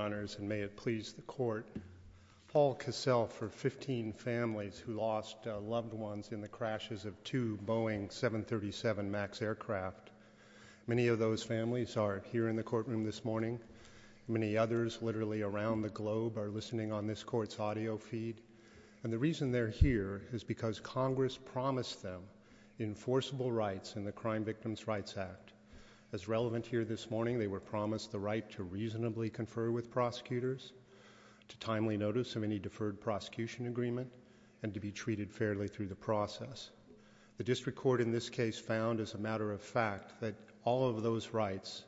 and may it please the court, Paul Cassell for 15 families who lost loved ones in the crashes of two Boeing 737 MAX aircraft. Many of those families are here in the courtroom this morning. Many others literally around the globe are listening on this court's audio feed. And the reason they're here is because Congress promised them enforceable rights in the Crime Victims' Rights Act. As relevant here this morning, they were promised the right to reasonably confer with prosecutors, to timely notice of any deferred prosecution agreement, and to be treated fairly through the process. The district court in this case found, as a matter of fact, that all of those rights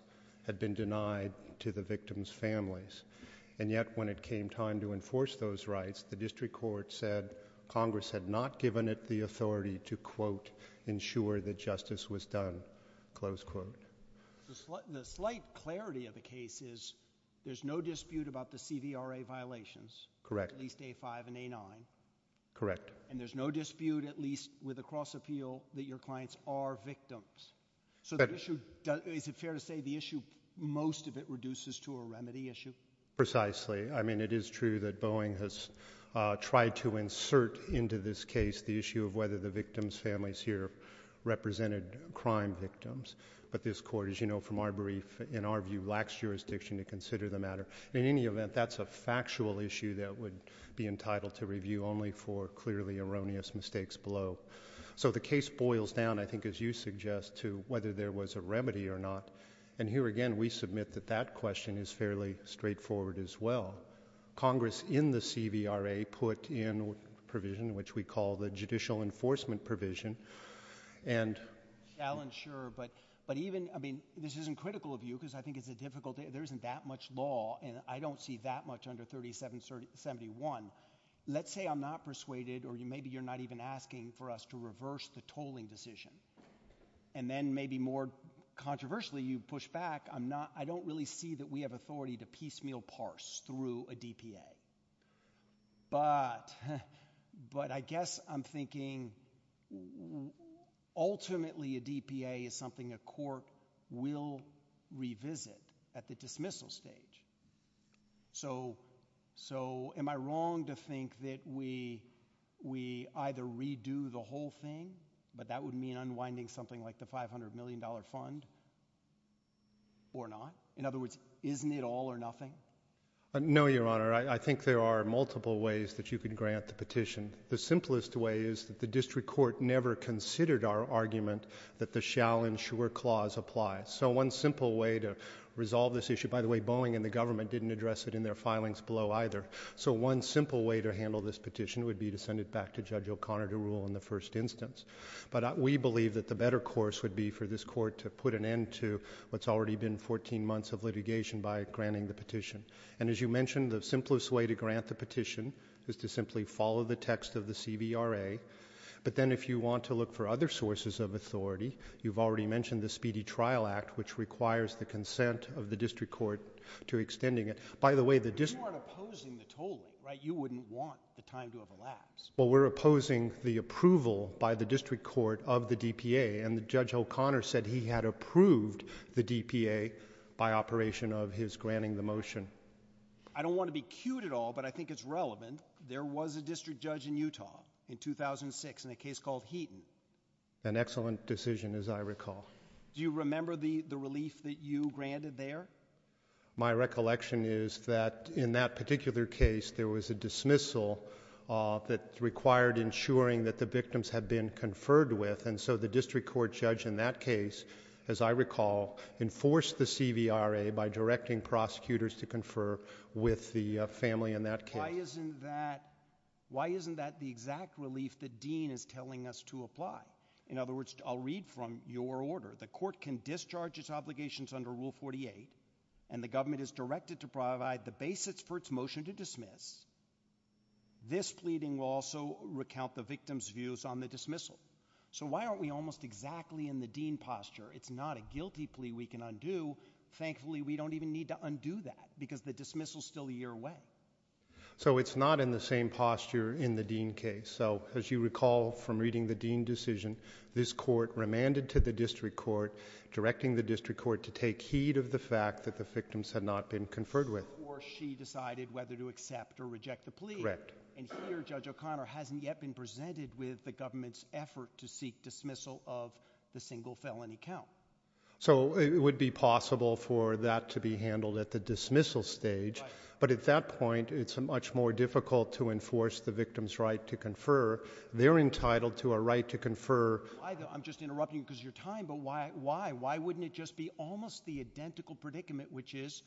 had been denied to the victims' families. And yet when it came time to enforce those rights, the district court said Congress had not given it the authority to, quote, ensure that justice was done, close quote. The slight clarity of the case is there's no dispute about the CDRA violations. Correct. At least A-5 and A-9. Correct. And there's no dispute, at least with the cross-appeal, that your clients are victims. Correct. So is it fair to say the issue, most of it, reduces to a remedy issue? Precisely. I mean, it is true that Boeing has tried to insert into this case the issue of whether the victims' families here represented crime victims. But this Court, as you know from our brief, in our view, lacks jurisdiction to consider the matter. In any event, that's a factual issue that would be entitled to review only for clearly erroneous mistakes below. So the case boils down, I think as you suggest, to whether there was a remedy or not. And here again, we submit that that question is fairly straightforward as well. Congress in the CDRA put in a provision which we call the Judicial Enforcement Provision, and — Alan, sure. But even — I mean, this isn't critical of you, because I think it's a difficult — there isn't that much law, and I don't see that much under 3771. Let's say I'm not persuaded, or maybe you're not even asking for us to reverse the tolling decision. And then, maybe more controversially, you push back, I'm not — I don't really see that we have authority to piecemeal parse through a DPA. But — but I guess I'm thinking, ultimately, a DPA is something a court will revisit at the dismissal stage. So — so am I wrong to think that we — we either redo the whole thing, but that would mean unwinding something like the $500 million fund, or not? In other words, isn't it all or nothing? No, Your Honor. I think there are multiple ways that you can grant the petition. The simplest way is that the district court never considered our argument that the shall and sure clause applies. So one simple way to resolve this issue — by the way, Boeing and the government didn't address it in their filings below, either. So one simple way to handle this petition would be to send it back to Judge O'Connor to rule in the first instance. But we believe that the better course would be for this court to put an end to what's already been 14 months of litigation by granting the petition. And as you mentioned, the simplest way to grant the petition is to simply follow the text of the CVRA. But then if you want to look for other sources of authority, you've already mentioned the Speedy Trial Act, which requires the consent of the district court to expending it. By the way, the district — But you aren't opposing the total, right? You wouldn't want the time to have elapsed. Well, we're opposing the approval by the district court of the DPA. And Judge O'Connor said he had approved the DPA by operation of his granting the motion. I don't want to be cute at all, but I think it's relevant. There was a district judge in Utah in 2006 in a case called Heaton. An excellent decision, as I recall. Do you remember the relief that you granted there? My recollection is that in that particular case, there was a dismissal that required ensuring that the victims had been conferred with. And so the district court judge in that case, as I recall, enforced the CVRA by directing prosecutors to confer with the family in that case. Why isn't that the exact relief that Dean is telling us to apply? In other words, I'll read from your order. The court can discharge its obligations under Rule 48, and the government is directed to provide the basics for its motion to dismiss. This pleading will also recount the victim's views on the dismissal. So why aren't we almost exactly in the Dean posture? It's not a guilty plea we can undo. Thankfully, we don't even need to undo that, because the dismissal is still a year away. So it's not in the same posture in the Dean case. So as you recall from reading the Dean decision, this court remanded to the district court, directing the district court to take heed of the fact that the victims had not been conferred with. Or she decided whether to accept or reject the plea. Correct. And here, Judge O'Connor hasn't yet been presented with the government's effort to seek dismissal of the single felony count. So it would be possible for that to be handled at the dismissal stage, but at that point, it's much more difficult to enforce the victim's right to confer. They're entitled to a right to confer. I'm just interrupting because of your time, but why? Why wouldn't it just be almost the identical predicament, which is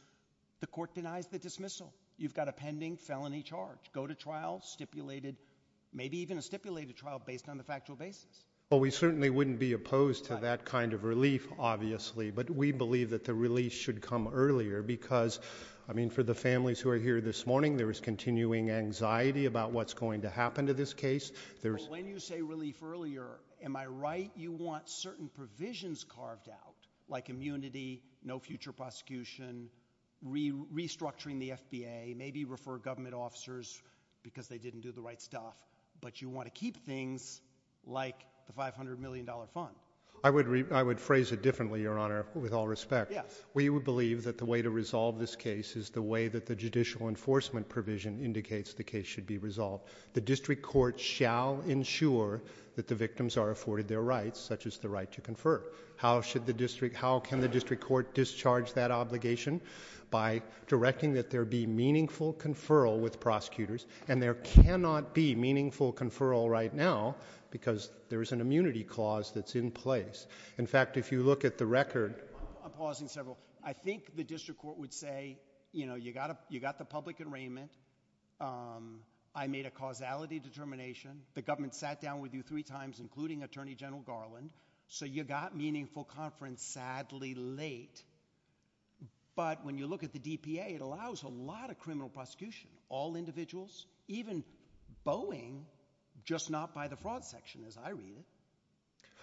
the court denies the dismissal? You've got a pending felony charge. Go to trial, stipulated, maybe even a stipulated trial based on the factual basis. Well, we certainly wouldn't be opposed to that kind of relief, obviously, but we believe that the release should come earlier, because, I mean, for the families who are here this morning, there is continuing anxiety about what's going to happen to this case. When you say relief earlier, am I right? You want certain provisions carved out, like immunity, no future prosecution, restructuring the FBA, maybe refer government officers because they didn't do the right stuff, but you want to keep things like the $500 million fund. I would phrase it differently, Your Honor, with all respect. We would believe that the way to resolve this case is the way that the judicial enforcement provision indicates the case should be resolved. The district court shall ensure that the victims are afforded their rights, such as the right to confer. How should the district, how can the district court discharge that obligation? By directing that there be meaningful conferral with prosecutors, and there cannot be meaningful conferral right now, because there is an immunity clause that's in place. In fact, if you look at the record... I'm pausing several. I think the district court would say, you know, you got the public arraignment, I made a causality determination, the government sat down with you three times, including Attorney General Garland, so you got meaningful conference sadly late. But when you look at the DPA, it allows a lot of criminal prosecution, all individuals, even Boeing, just not by the fraud section, as I read it.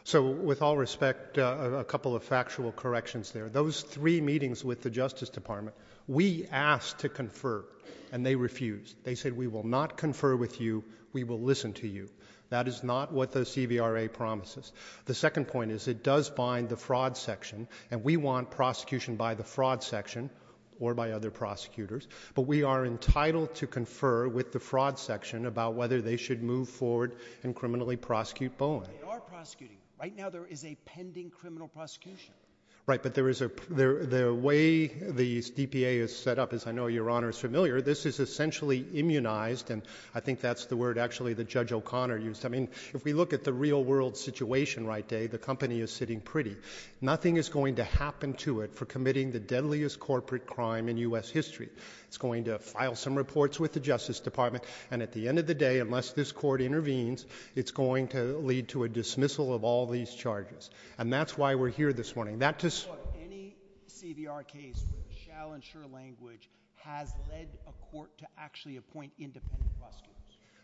So with all respect, a couple of factual corrections there. Those three meetings with the Justice Department, we asked to confer, and they refused. They said, we will not confer with you, we will listen to you. That is not what the CVRA promises. The second point is, it does bind the fraud section, and we want prosecution by the fraud section or by other prosecutors, but we are entitled to confer with the fraud section about whether they should move forward and criminally prosecute Boeing. You are prosecuting. Right now there is a pending criminal prosecution. Right, but there is a... the way the DPA is set up, as I know Your Honor is familiar, this is essentially immunized, and I think that's the word actually that Judge O'Connor used. I mean, if we look at the real world situation right now, the company is sitting pretty. Nothing is going to happen to it for committing the deadliest corporate crime in U.S. history. It's going to file some reports with the Justice Department, and at the end of the day, unless this court intervenes, it's going to lead to a dismissal of all these charges. And that's why we're here this morning. That's just... But any CVRA case, which shall ensure language, has led a court to actually appoint independent prosecutors.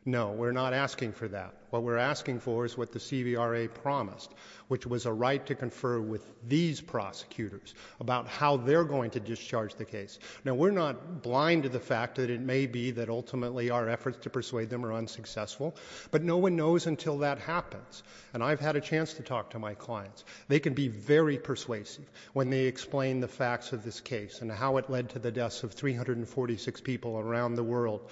No, we're not asking for that. What we're asking for is what the CVRA promised, which was a right to confer with these prosecutors about how they're going to discharge the case. Now, we're not blind to the fact that it may be that ultimately our efforts to persuade them are unsuccessful, but no one knows until that happens. And I've had a chance to talk to my clients. They can be very persuasive when they explain the facts of this case and how it led to the deaths of 346 people around the world,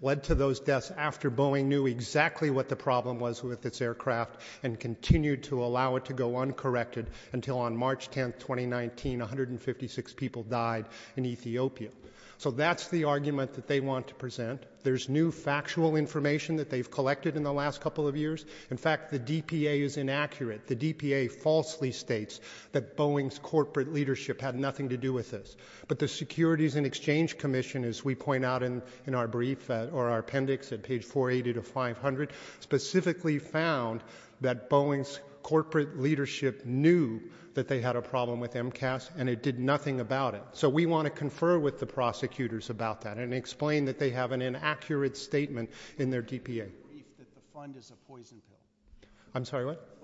led to those deaths after Boeing knew exactly what the problem was with its aircraft and continued to allow it to go uncorrected until on March 10, 2019, 156 people died in Ethiopia. So that's the argument that they want to present. There's new factual information that they've collected in the last couple of years. In fact, the DPA is inaccurate. The DPA falsely states that Boeing's corporate leadership had nothing to do with this. But the Securities and Exchange Commission, as we point out in our brief or our appendix at page 480 to 500, specifically found that Boeing's corporate leadership knew that they had a problem with MCAS, and it did nothing about it. So we want to confer with the prosecutors about that and explain that they have an inaccurate statement in their DPA. What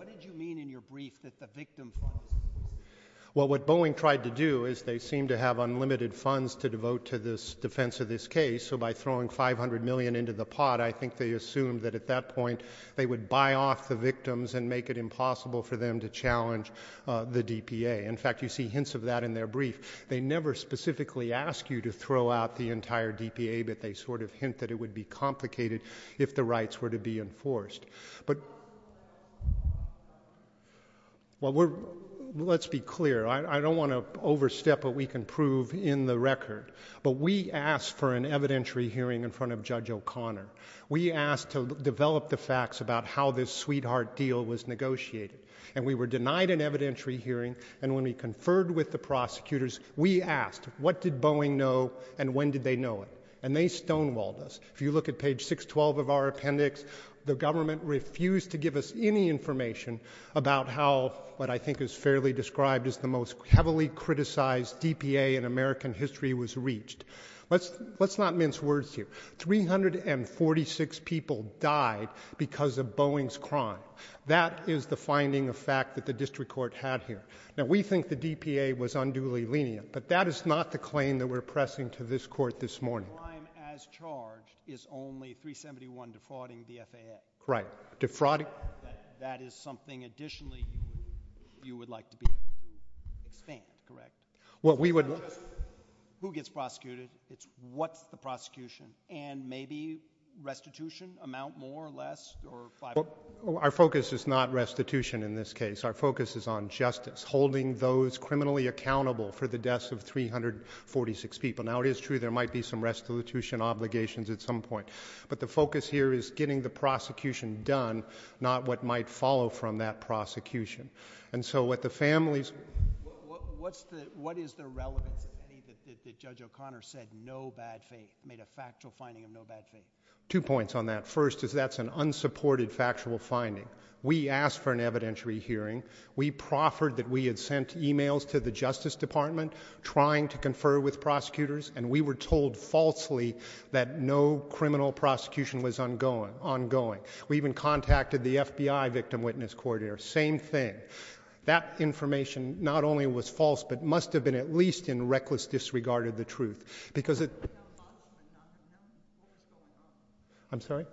did you mean in your brief that the victims were... Well what Boeing tried to do is they seem to have unlimited funds to devote to the defense of this case. So by throwing 500 million into the pot, I think they assumed that at that point they would buy off the victims and make it impossible for them to challenge the DPA. In fact, you see hints of that in their brief. They never specifically ask you to throw out the entire DPA, but they sort of hint that it would be complicated if the rights were to be enforced. But let's be clear. I don't want to overstep what we can prove in the record. But we asked for an evidentiary hearing in front of Judge O'Connor. We asked to develop the facts about how this sweetheart deal was negotiated. And we were denied an evidentiary hearing. And when we conferred with the prosecutors, we asked, what did Boeing know and when did they know it? And they stonewalled us. If you look at page 612 of our appendix, the government refused to give us any information about how what I think is fairly described as the most heavily criticized DPA in American history was reached. Let's not mince words here. 346 people died because of Boeing's crime. That is the finding of fact that the district court had here. Now, we think the DPA was unduly lenient, but that is not the claim that we're pressing to this court this morning. The crime as charged is only 371 defrauding the FAS. Right. Defrauding. That is something additionally you would like to be able to think, correct? Well, we would. Who gets prosecuted? It's what's the prosecution? And maybe restitution, amount more or less, or 5%? Our focus is not restitution in this case. Our focus is on justice, holding those criminally accountable for the deaths of 346 people. Now, it is true there might be some restitution obligations at some point, but the focus here is getting the prosecution done, not what might follow from that prosecution. And so what the families... What is the relevant statement that Judge O'Connor said, no bad faith, made a factual finding of no bad faith? Two points on that. First is that's an unsupported factual finding. We asked for an evidentiary hearing. We proffered that we had sent emails to the Justice Department trying to confer with prosecutors, and we were told falsely that no criminal prosecution was ongoing. We even contacted the FBI victim witness court here. Same thing. That information not only was false, but must have been at least in reckless disregard of the truth. Because it... I'm sorry?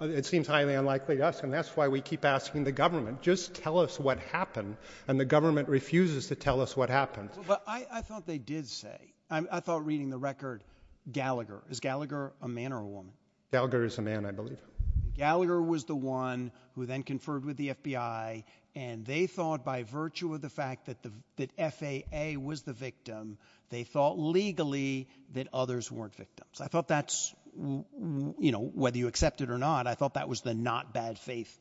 It seems highly unlikely, yes, and that's why we keep asking the government, just tell us what happened, and the government refuses to tell us what happened. But I thought they did say, I thought reading the record, Gallagher, is Gallagher a man or a woman? Gallagher is a man, I believe. Gallagher was the one who then conferred with the FBI, and they thought by virtue of the fact that FAA was the victim, they thought legally that others weren't victims. I thought that's, you know, whether you accept it or not, I thought that was the not bad faith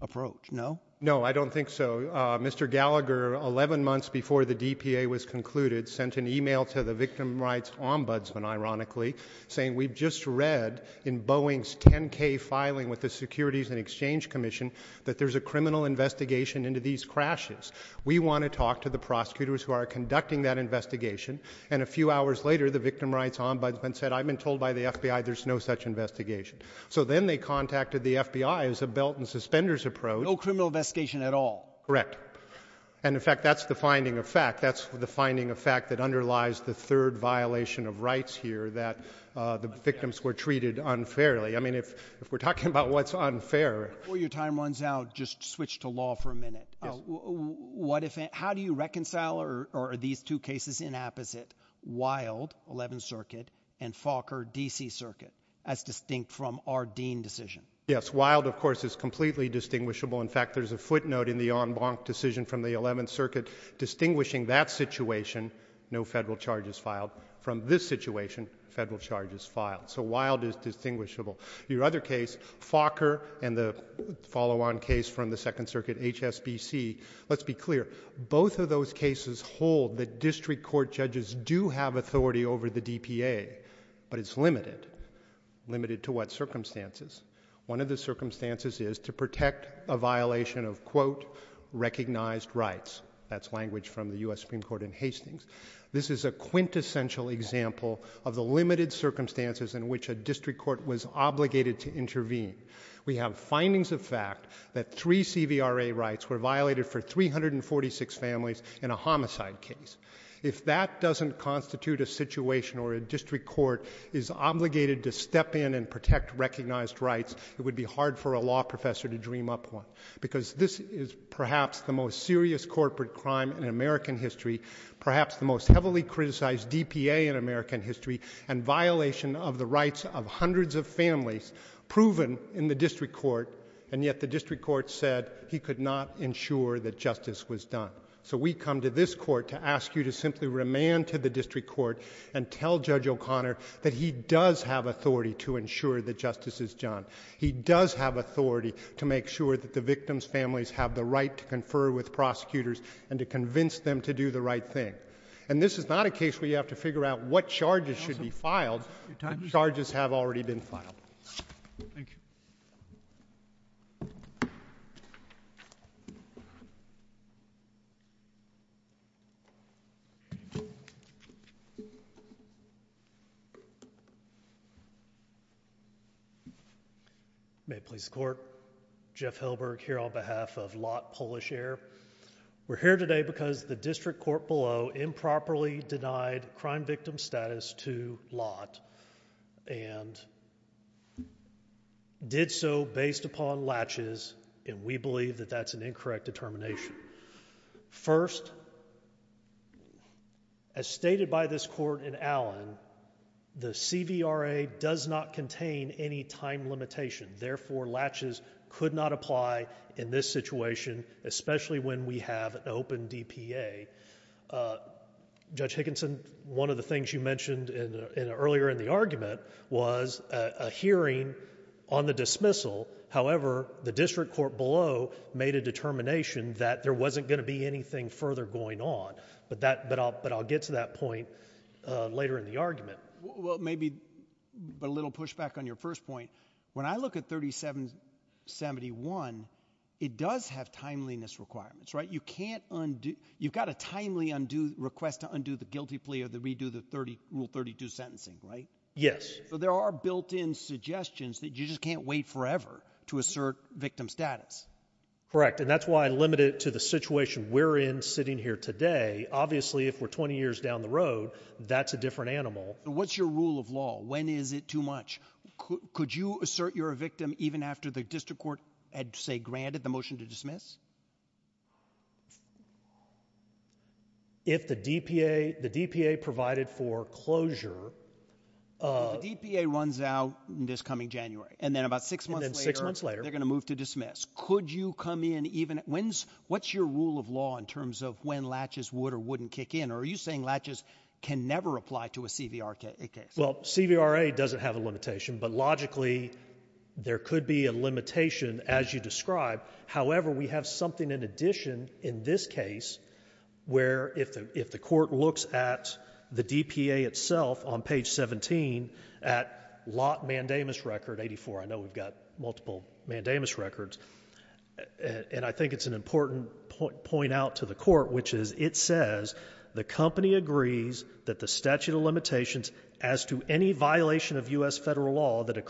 approach, no? No, I don't think so. Mr. Gallagher, 11 months before the DPA was concluded, sent an email to the victim rights ombudsman, ironically, saying, we just read in Boeing's 10K filing with the Securities and Exchange Commission that there's a criminal investigation into these crashes. We want to talk to the prosecutors who are conducting that investigation. And a few hours later, the victim rights ombudsman said, I've been told by the FBI there's no such investigation. So then they contacted the FBI as a belt and suspenders approach. No criminal investigation at all. Correct. And in fact, that's the finding of fact, that's the finding of fact that underlies the third violation of rights here, that the victims were treated unfairly. I mean, if we're talking about what's unfair. Before your time runs out, just switch to law for a minute. How do you reconcile, or are these two cases inapposite, Wild, 11th Circuit, and Falker, DC Circuit, as distinct from our Dean decision? Yes. Wild, of course, is completely distinguishable. In fact, there's a footnote in the En Blanc decision from the 11th Circuit distinguishing that situation, no federal charges filed, from this situation, federal charges filed. So Wild is distinguishable. Your other case, Falker, and the follow-on case from the Second Circuit, HSBC, let's be clear, both of those cases hold that district court judges do have authority over the DPA, but it's limited. Limited to what circumstances? One of the circumstances is to protect a violation of, quote, recognized rights. That's language from the U.S. Supreme Court in Hastings. This is a quintessential example of the limited circumstances in which a district court was obligated to intervene. We have findings of fact that three CVRA rights were violated for 346 families in a homicide case. If that doesn't constitute a situation where a district court is obligated to step in and protect recognized rights, it would be hard for a law professor to dream up one, because this is perhaps the most serious corporate crime in American history, perhaps the most heavily criticized DPA in American history, and violation of the rights of hundreds of families proven in the district court, and yet the district court said he could not ensure that justice was done. So we come to this court to ask you to simply remand to the district court and tell Judge O'Connor that he does have authority to ensure that justice is done. He does have authority to make sure that the victim's families have the right to confer with prosecutors and to convince them to do the right thing. And this is not a case where you have to figure out what charges should be filed. Charges have already been filed. May it please the Court, Jeff Hilberg here on behalf of Lott Polish Air. We're here today because the district court below improperly denied crime victim status to Lott and did so based upon latches, and we believe that that's an incorrect determination. First, as stated by this court in Allen, the CVRA does not contain any time limitation. Therefore, latches could not apply in this situation, especially when we have open DPA. Judge Hickinson, one of the things you mentioned earlier in the argument was a hearing on the dismissal. However, the district court below made a determination that there wasn't going to be anything further going on, but I'll get to that point later in the argument. Well, maybe a little pushback on your first point. When I look at 3771, it does have timeliness requirements, right? You've got a timely request to undo the guilty plea or to redo the Rule 32 sentencing, right? Yes. But there are built-in suggestions that you just can't wait forever to assert victim status. Correct, and that's why I limit it to the situation we're in sitting here today. Obviously, if we're 20 years down the road, that's a different animal. What's your rule of law? When is it too much? Could you assert you're a victim even after the district court had, say, granted the motion to dismiss? If the DPA provided for closure of – So the DPA runs out this coming January, and then about six months later – And then six months later – They're going to move to dismiss. Could you come in even – when's – what's your rule of law in terms of when latches would or wouldn't kick in, or are you saying latches can never apply to a CVRA case? Well, CVRA doesn't have a limitation, but logically, there could be a limitation as you describe. However, we have something in addition in this case where if the court looks at the DPA itself on page 17 at Lot Mandamus Record 84 – I know we've got multiple Mandamus records – and I think it's an important point out to the court, which is it says, the company agrees that the statute of limitations as to any violation of U.S. federal law that The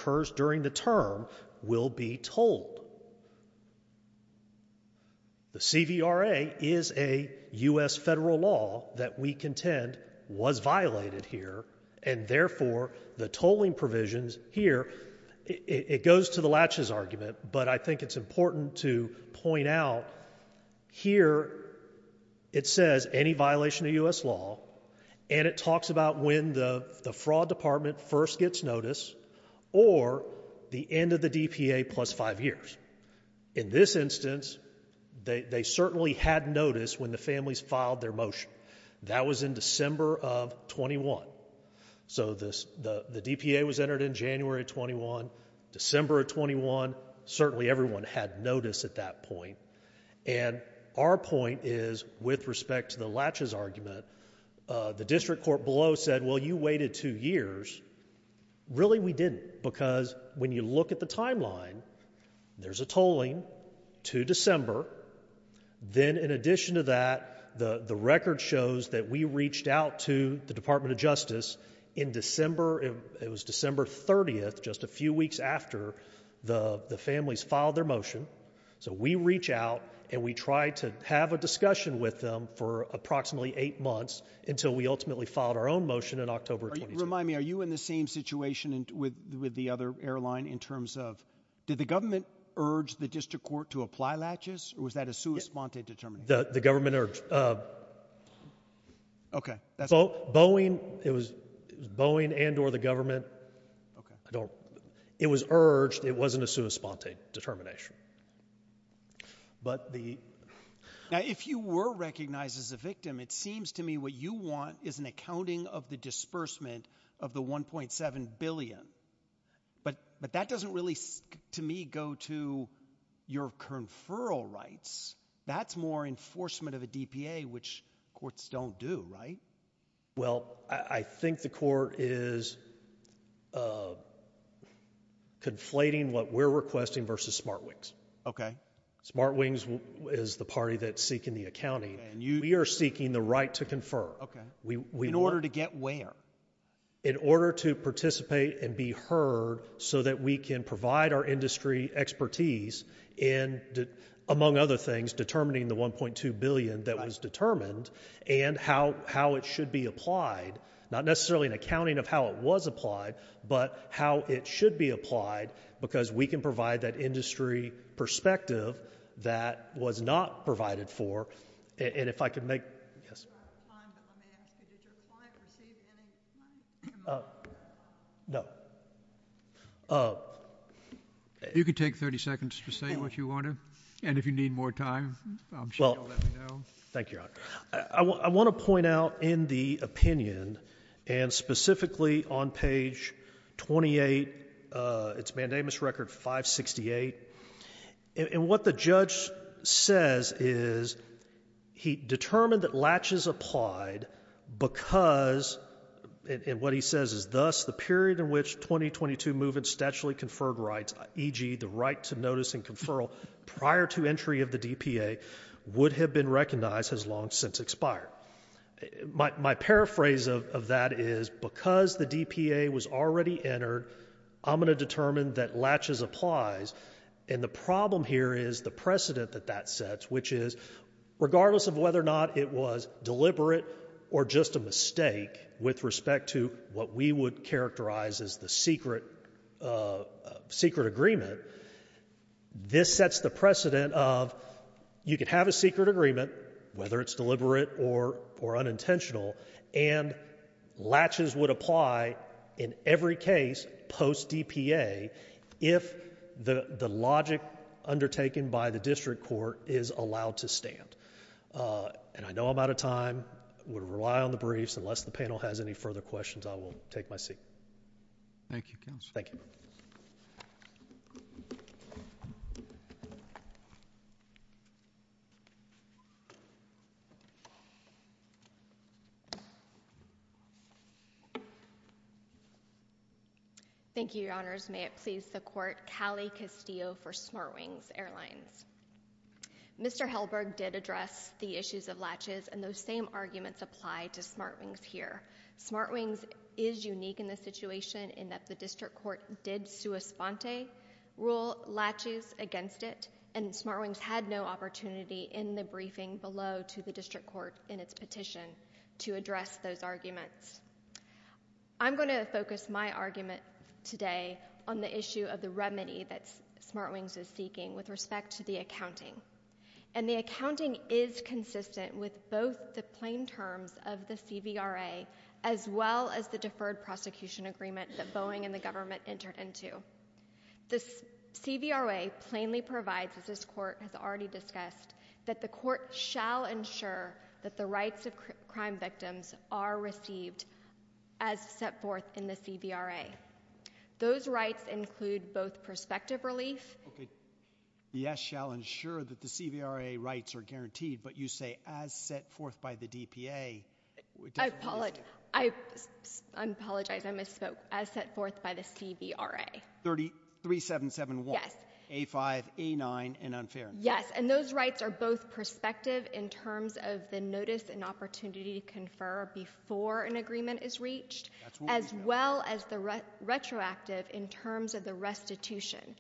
CVRA is a U.S. federal law that we contend was violated here, and therefore, the tolling provisions here – it goes to the latches argument, but I think it's important to point out here it says, any violation of U.S. law, and it talks about when the fraud department first gets notice or the end of the DPA plus five years. In this instance, they certainly had notice when the families filed their motion. That was in December of 21. So the DPA was entered in January of 21, December of 21. Certainly everyone had notice at that point. And our point is, with respect to the latches argument, the district court below said, well, you waited two years. Really, we didn't, because when you look at the timeline, there's a tolling to December. Then in addition to that, the record shows that we reached out to the Department of Justice in December – it was December 30th, just a few weeks after the families filed their motion. So we reach out and we try to have a discussion with them for approximately eight months until we ultimately filed our own motion in October 21. Just to remind me, are you in the same situation with the other airline in terms of – did the government urge the district court to apply latches, or was that a sua sponte determination? The government urged – OK. That's – Boeing – it was Boeing and or the government. It was urged. It wasn't a sua sponte determination. But the – Now, if you were recognized as the victim, it seems to me what you want is an accounting of the disbursement of the $1.7 billion. But that doesn't really, to me, go to your conferral rights. That's more enforcement of the DPA, which courts don't do, right? Well, I think the court is conflating what we're requesting versus SmartWings. OK. SmartWings is the party that's seeking the accounting. And we are seeking the right to confer. OK. In order to get where? In order to participate and be heard so that we can provide our industry expertise in, among other things, determining the $1.2 billion that was determined and how it should be applied – not necessarily an accounting of how it was applied, but how it should be applied because we can provide that industry perspective that was not provided for. And if I could make – Yes. If you could take 30 seconds to say what you want to, and if you need more time, I'm sure you'll let me know. Well, thank you, Your Honor. I want to point out in the opinion, and specifically on page 28, it's mandamus record 568, and what the judge says is he determined that latches applied because – and what he says is, thus, the period in which 2022 movements statually conferred rights, e.g., the right to notice and conferral prior to entry of the DPA, would have been recognized as long since expired. My paraphrase of that is, because the DPA was already entered, I'm going to determine that latches applies, and the problem here is the precedent that that sets, which is regardless of whether or not it was deliberate or just a mistake with respect to what we would characterize as the secret agreement, this sets the precedent of you could have a secret agreement, whether it's deliberate or unintentional, and latches would apply in every case post-DPA if the logic undertaken by the district court is allowed to stand. And I know I'm out of time. I'm going to rely on the briefs. Unless the panel has any further questions, I will take my seat. Thank you, counsel. Thank you. Thank you, Your Honors. May it please the Court, Callie Castillo for SmartWings Airlines. Mr. Halberg did address the issues of latches, and those same arguments apply to SmartWings here. SmartWings is unique in the situation in that the district court did sua sponte, rule latches against it, and SmartWings had no opportunity in the briefing below to the district court in its petition to address those arguments. I'm going to focus my argument today on the issue of the remedy that SmartWings is seeking with respect to the accounting. And the accounting is consistent with both the plain terms of the CVRA as well as the deferred prosecution agreement that Boeing and the government entered into. The CVRA plainly provides, as this Court has already discussed, that the Court shall ensure that the rights of crime victims are received as set forth in the CVRA. Those rights include both prospective release. Okay. Yes, shall ensure that the CVRA rights are guaranteed, but you say as set forth by the DPA. I apologize. I misspoke. As set forth by the CVRA. 33771. Yes. A5, A9, and unfair. Yes. And those rights are both prospective in terms of the notice and opportunity to confer before an agreement is reached as well as the retroactive in terms of the restitution.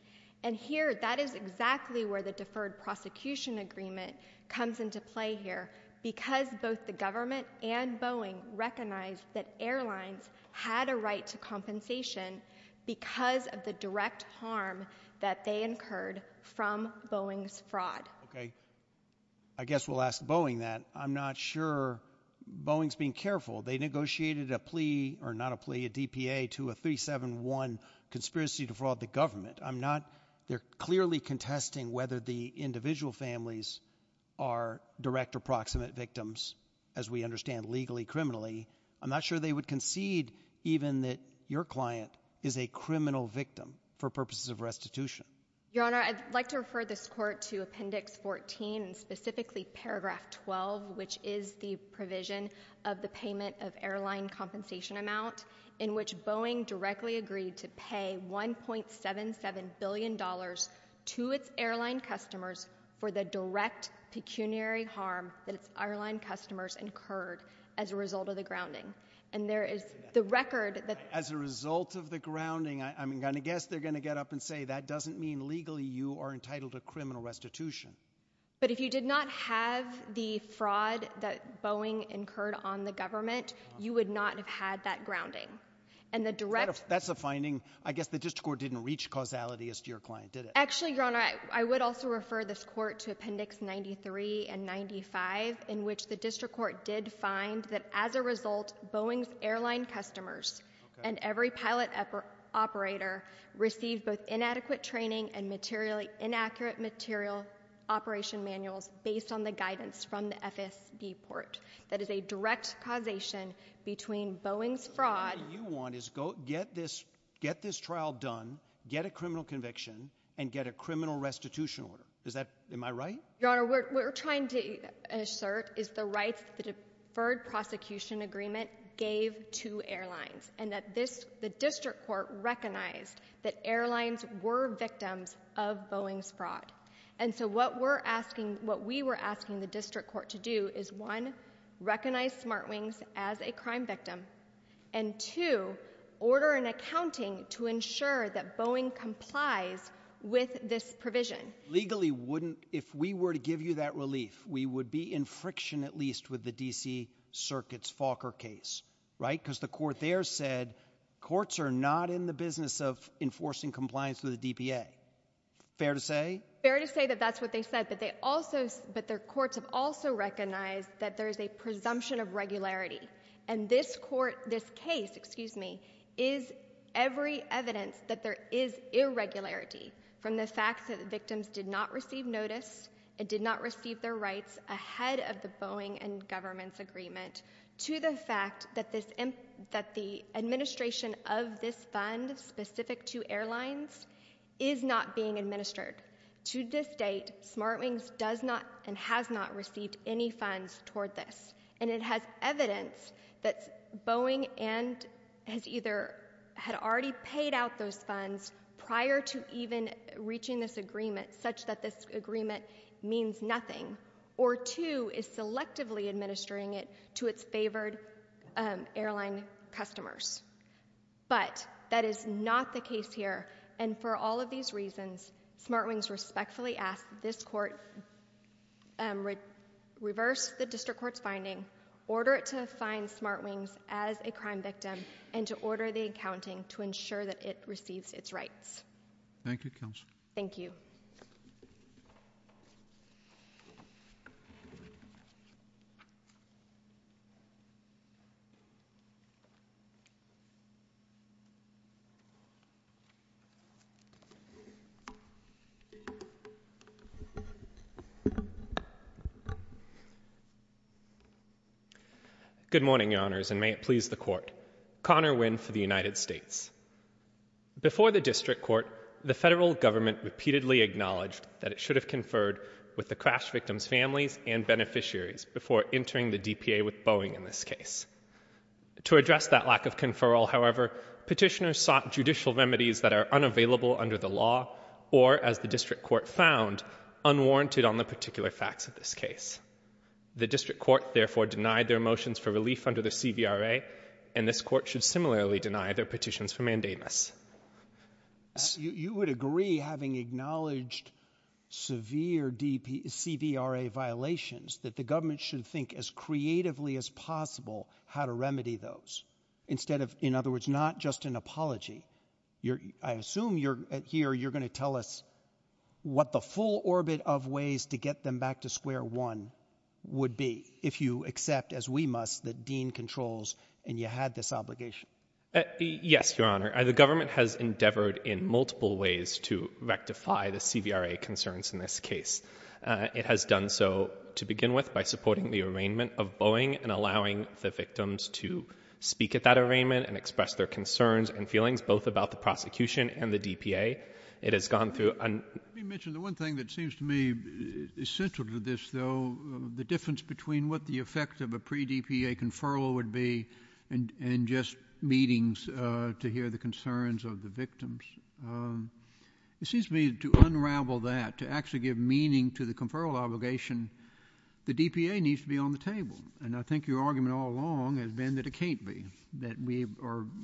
And here, that is exactly where the deferred prosecution agreement comes into play here because both the government and Boeing recognized that airlines had a right to compensation because of the direct harm that they incurred from Boeing's fraud. Okay. I guess we'll ask Boeing that. I'm not sure Boeing's being careful. They negotiated a plea, or not a plea, a DPA to a 371 conspiracy to fraud the government. I'm not, they're clearly contesting whether the individual families are direct or proximate victims as we understand legally, criminally. I'm not sure they would concede even that your client is a criminal victim for purposes of restitution. Your Honor, I'd like to refer this court to Appendix 14, specifically Paragraph 12, which is the provision of the payment of airline compensation amount in which Boeing directly agreed to pay $1.77 billion to its airline customers for the direct pecuniary harm that As a result of the grounding, I'm going to guess they're going to get up and say that doesn't mean legally you are entitled to criminal restitution. But if you did not have the fraud that Boeing incurred on the government, you would not have had that grounding. And the direct... That's a finding. I guess the district court didn't reach causality as to your client, did it? Actually, Your Honor, I would also refer this court to Appendix 93 and 95 in which the district court did find that as a result, Boeing's airline customers and every pilot operator received both inadequate training and inaccurate material operation manuals based on the guidance from the FSD port. That is a direct causation between Boeing's fraud... What you want is get this trial done, get a criminal conviction, and get a criminal restitution order. Is that... Am I right? Your Honor, what we're trying to assert is the rights the deferred prosecution agreement gave to airlines and that this... The district court recognized that airlines were victims of Boeing's fraud. And so what we're asking... What we were asking the district court to do is one, recognize SmartWings as a crime victim and two, order an accounting to ensure that Boeing complies with this provision. Legally, wouldn't... If we were to give you that relief, we would be in friction at least with the DC Circuit's Falker case, right, because the court there said courts are not in the business of enforcing compliance with the DPA. Fair to say? Fair to say that that's what they said, that they also... That their courts have also recognized that there's a presumption of regularity. And this court, this case, excuse me, is every evidence that there is irregularity from the fact that the victims did not receive notice and did not receive their rights ahead of the Boeing and government's agreement to the fact that this... That the administration of this fund specific to airlines is not being administered. To this date, SmartWings does not and has not received any funds toward this. And it has evidence that Boeing and has either had already paid out those funds prior to even reaching this agreement, such that this agreement means nothing, or two, is selectively administering it to its favored airline customers. But that is not the case here. And for all of these reasons, SmartWings respectfully asks this court reverse the district court finding, order it to assign SmartWings as a crime victim, and to order the accounting to ensure that it receives its rights. Thank you, counsel. Thank you. Good morning, your honors, and may it please the court. Conor Wynn for the United States. Before the district court, the federal government repeatedly acknowledged that it should have conferred with the crash victim's families and beneficiaries before entering the DPA with Boeing in this case. To address that lack of conferral, however, petitioners sought judicial remedies that are unavailable under the law, or as the district court found, unwarranted on the particular facts of this case. The district court, therefore, denied their motions for relief under the CVRA, and this court should similarly deny their petitions for mandamus. You would agree, having acknowledged severe CVRA violations, that the government should think as creatively as possible how to remedy those, instead of, in other words, not just an apology. I assume here you're going to tell us what the full orbit of ways to get them back to where one would be, if you accept, as we must, that Dean controls and you have this obligation. Yes, your honor. The government has endeavored in multiple ways to rectify the CVRA concerns in this case. It has done so, to begin with, by supporting the arraignment of Boeing and allowing the victims to speak at that arraignment and express their concerns and feelings, both about the prosecution and the DPA. It has gone through... Let me mention the one thing that seems to me essential to this, though, the difference between what the effect of a pre-DPA conferral would be and just meetings to hear the concerns of the victims. It seems to me, to unravel that, to actually give meaning to the conferral obligation, the DPA needs to be on the table. And I think your argument all along has been that it can't be, that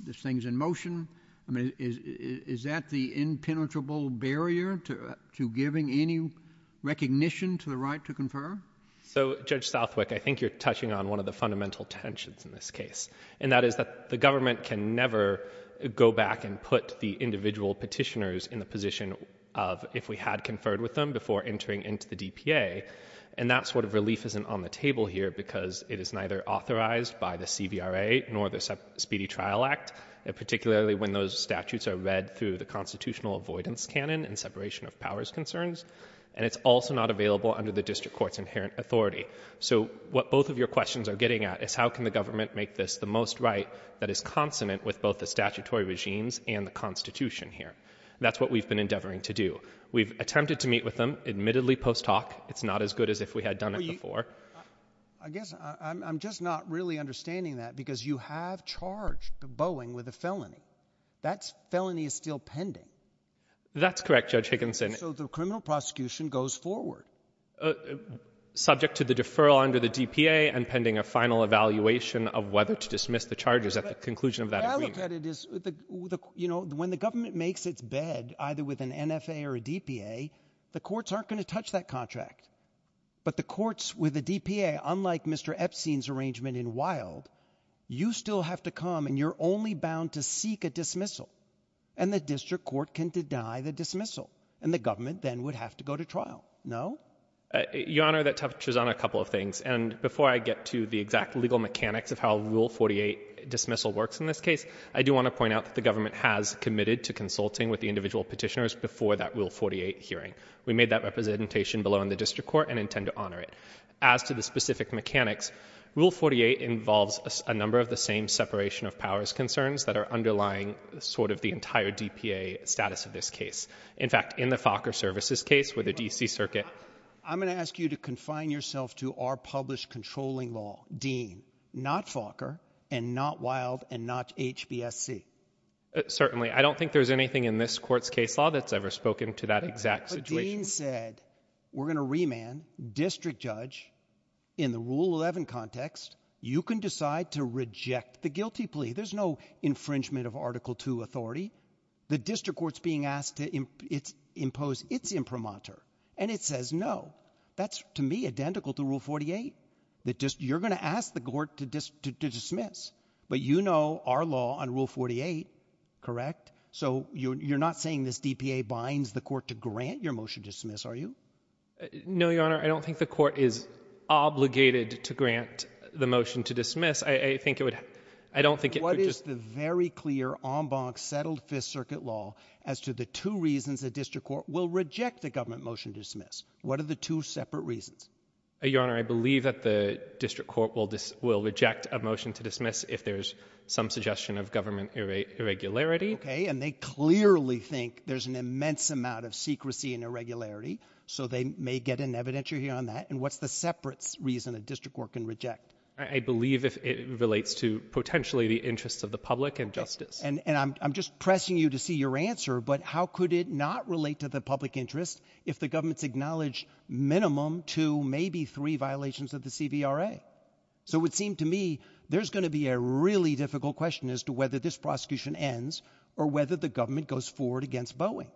this thing's in motion. I mean, is that the impenetrable barrier to giving any recognition to the right to confer? So, Judge Stolfwick, I think you're touching on one of the fundamental tensions in this case. And that is that the government can never go back and put the individual petitioners in the position of, if we had conferred with them, before entering into the DPA. And that sort of relief isn't on the table here because it is neither authorized by the DPA when those statutes are read through the constitutional avoidance canon and separation of powers concerns. And it's also not available under the district court's inherent authority. So what both of your questions are getting at is how can the government make this the most right that is consonant with both the statutory regimes and the constitution here. That's what we've been endeavoring to do. We've attempted to meet with them, admittedly post hoc. It's not as good as if we had done it before. I guess I'm just not really understanding that because you have charged Boeing with a felony. That felony is still pending. That's correct, Judge Higginson. So the criminal prosecution goes forward. Subject to the deferral under the DPA and pending a final evaluation of whether to dismiss the charges at the conclusion of that agreement. When the government makes its bed, either with an NFA or a DPA, the courts aren't going to touch that contract. But the courts with the DPA, unlike Mr. Epstein's arrangement in Wilde, you still have to come and you're only bound to seek a dismissal and the district court can deny the dismissal and the government then would have to go to trial. No? Your Honor, that touches on a couple of things. And before I get to the exact legal mechanics of how Rule 48 dismissal works in this case, I do want to point out that the government has committed to consulting with the individual petitioners before that Rule 48 hearing. We made that representation below in the district court and intend to honor it. As to the specific mechanics, Rule 48 involves a number of the same separation of powers concerns that are underlying sort of the entire DPA status of this case. In fact, in the Fokker Services case with the D.C. Circuit, I'm going to ask you to confine yourself to our published controlling law, Dean, not Fokker and not Wilde and not HBSC. Certainly. I don't think there's anything in this court's case law that's ever spoken to that exact situation. Having said we're going to remand district judge in the Rule 11 context, you can decide to reject the guilty plea. There's no infringement of Article 2 authority. The district court's being asked to impose its imprimatur and it says no. That's to me identical to Rule 48. You're going to ask the court to dismiss, but you know our law on Rule 48, correct? So you're not saying this DPA binds the court to grant your motion to dismiss, are you? No, Your Honor. I don't think the court is obligated to grant the motion to dismiss. I think it would, I don't think it would. What is the very clear en banc settled Fifth Circuit law as to the two reasons the district court will reject the government motion to dismiss? What are the two separate reasons? Your Honor, I believe that the district court will reject a motion to dismiss if there's some suggestion of government irregularity. Okay. And they clearly think there's an immense amount of secrecy and irregularity. So they may get an evidentiary on that. And what's the separate reason the district court can reject? I believe it relates to potentially the interests of the public and justice. And I'm just pressing you to see your answer, but how could it not relate to the public interest if the government's acknowledged minimum to maybe three violations of the CBRA? So it seemed to me there's going to be a really difficult question as to whether this prosecution ends or whether the government goes forward against Boeing.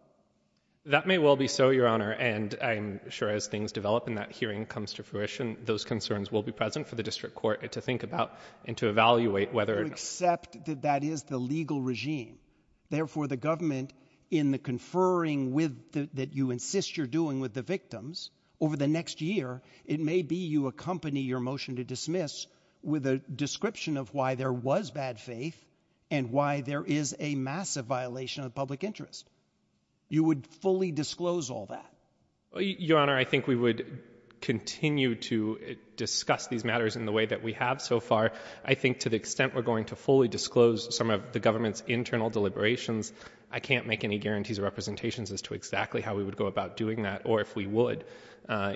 That may well be so, Your Honor. And I'm sure as things develop and that hearing comes to fruition, those concerns will be present for the district court to think about and to evaluate whether. Except that that is the legal regime. Therefore the government in the conferring with that you insist you're doing with the victims over the next year, it may be you accompany your motion to dismiss with a description of why there was bad faith and why there is a massive violation of public interest. You would fully disclose all that. Your Honor, I think we would continue to discuss these matters in the way that we have so far. I think to the extent we're going to fully disclose some of the government's internal deliberations, I can't make any guarantees or representations as to exactly how we would go about doing that. Or if we would,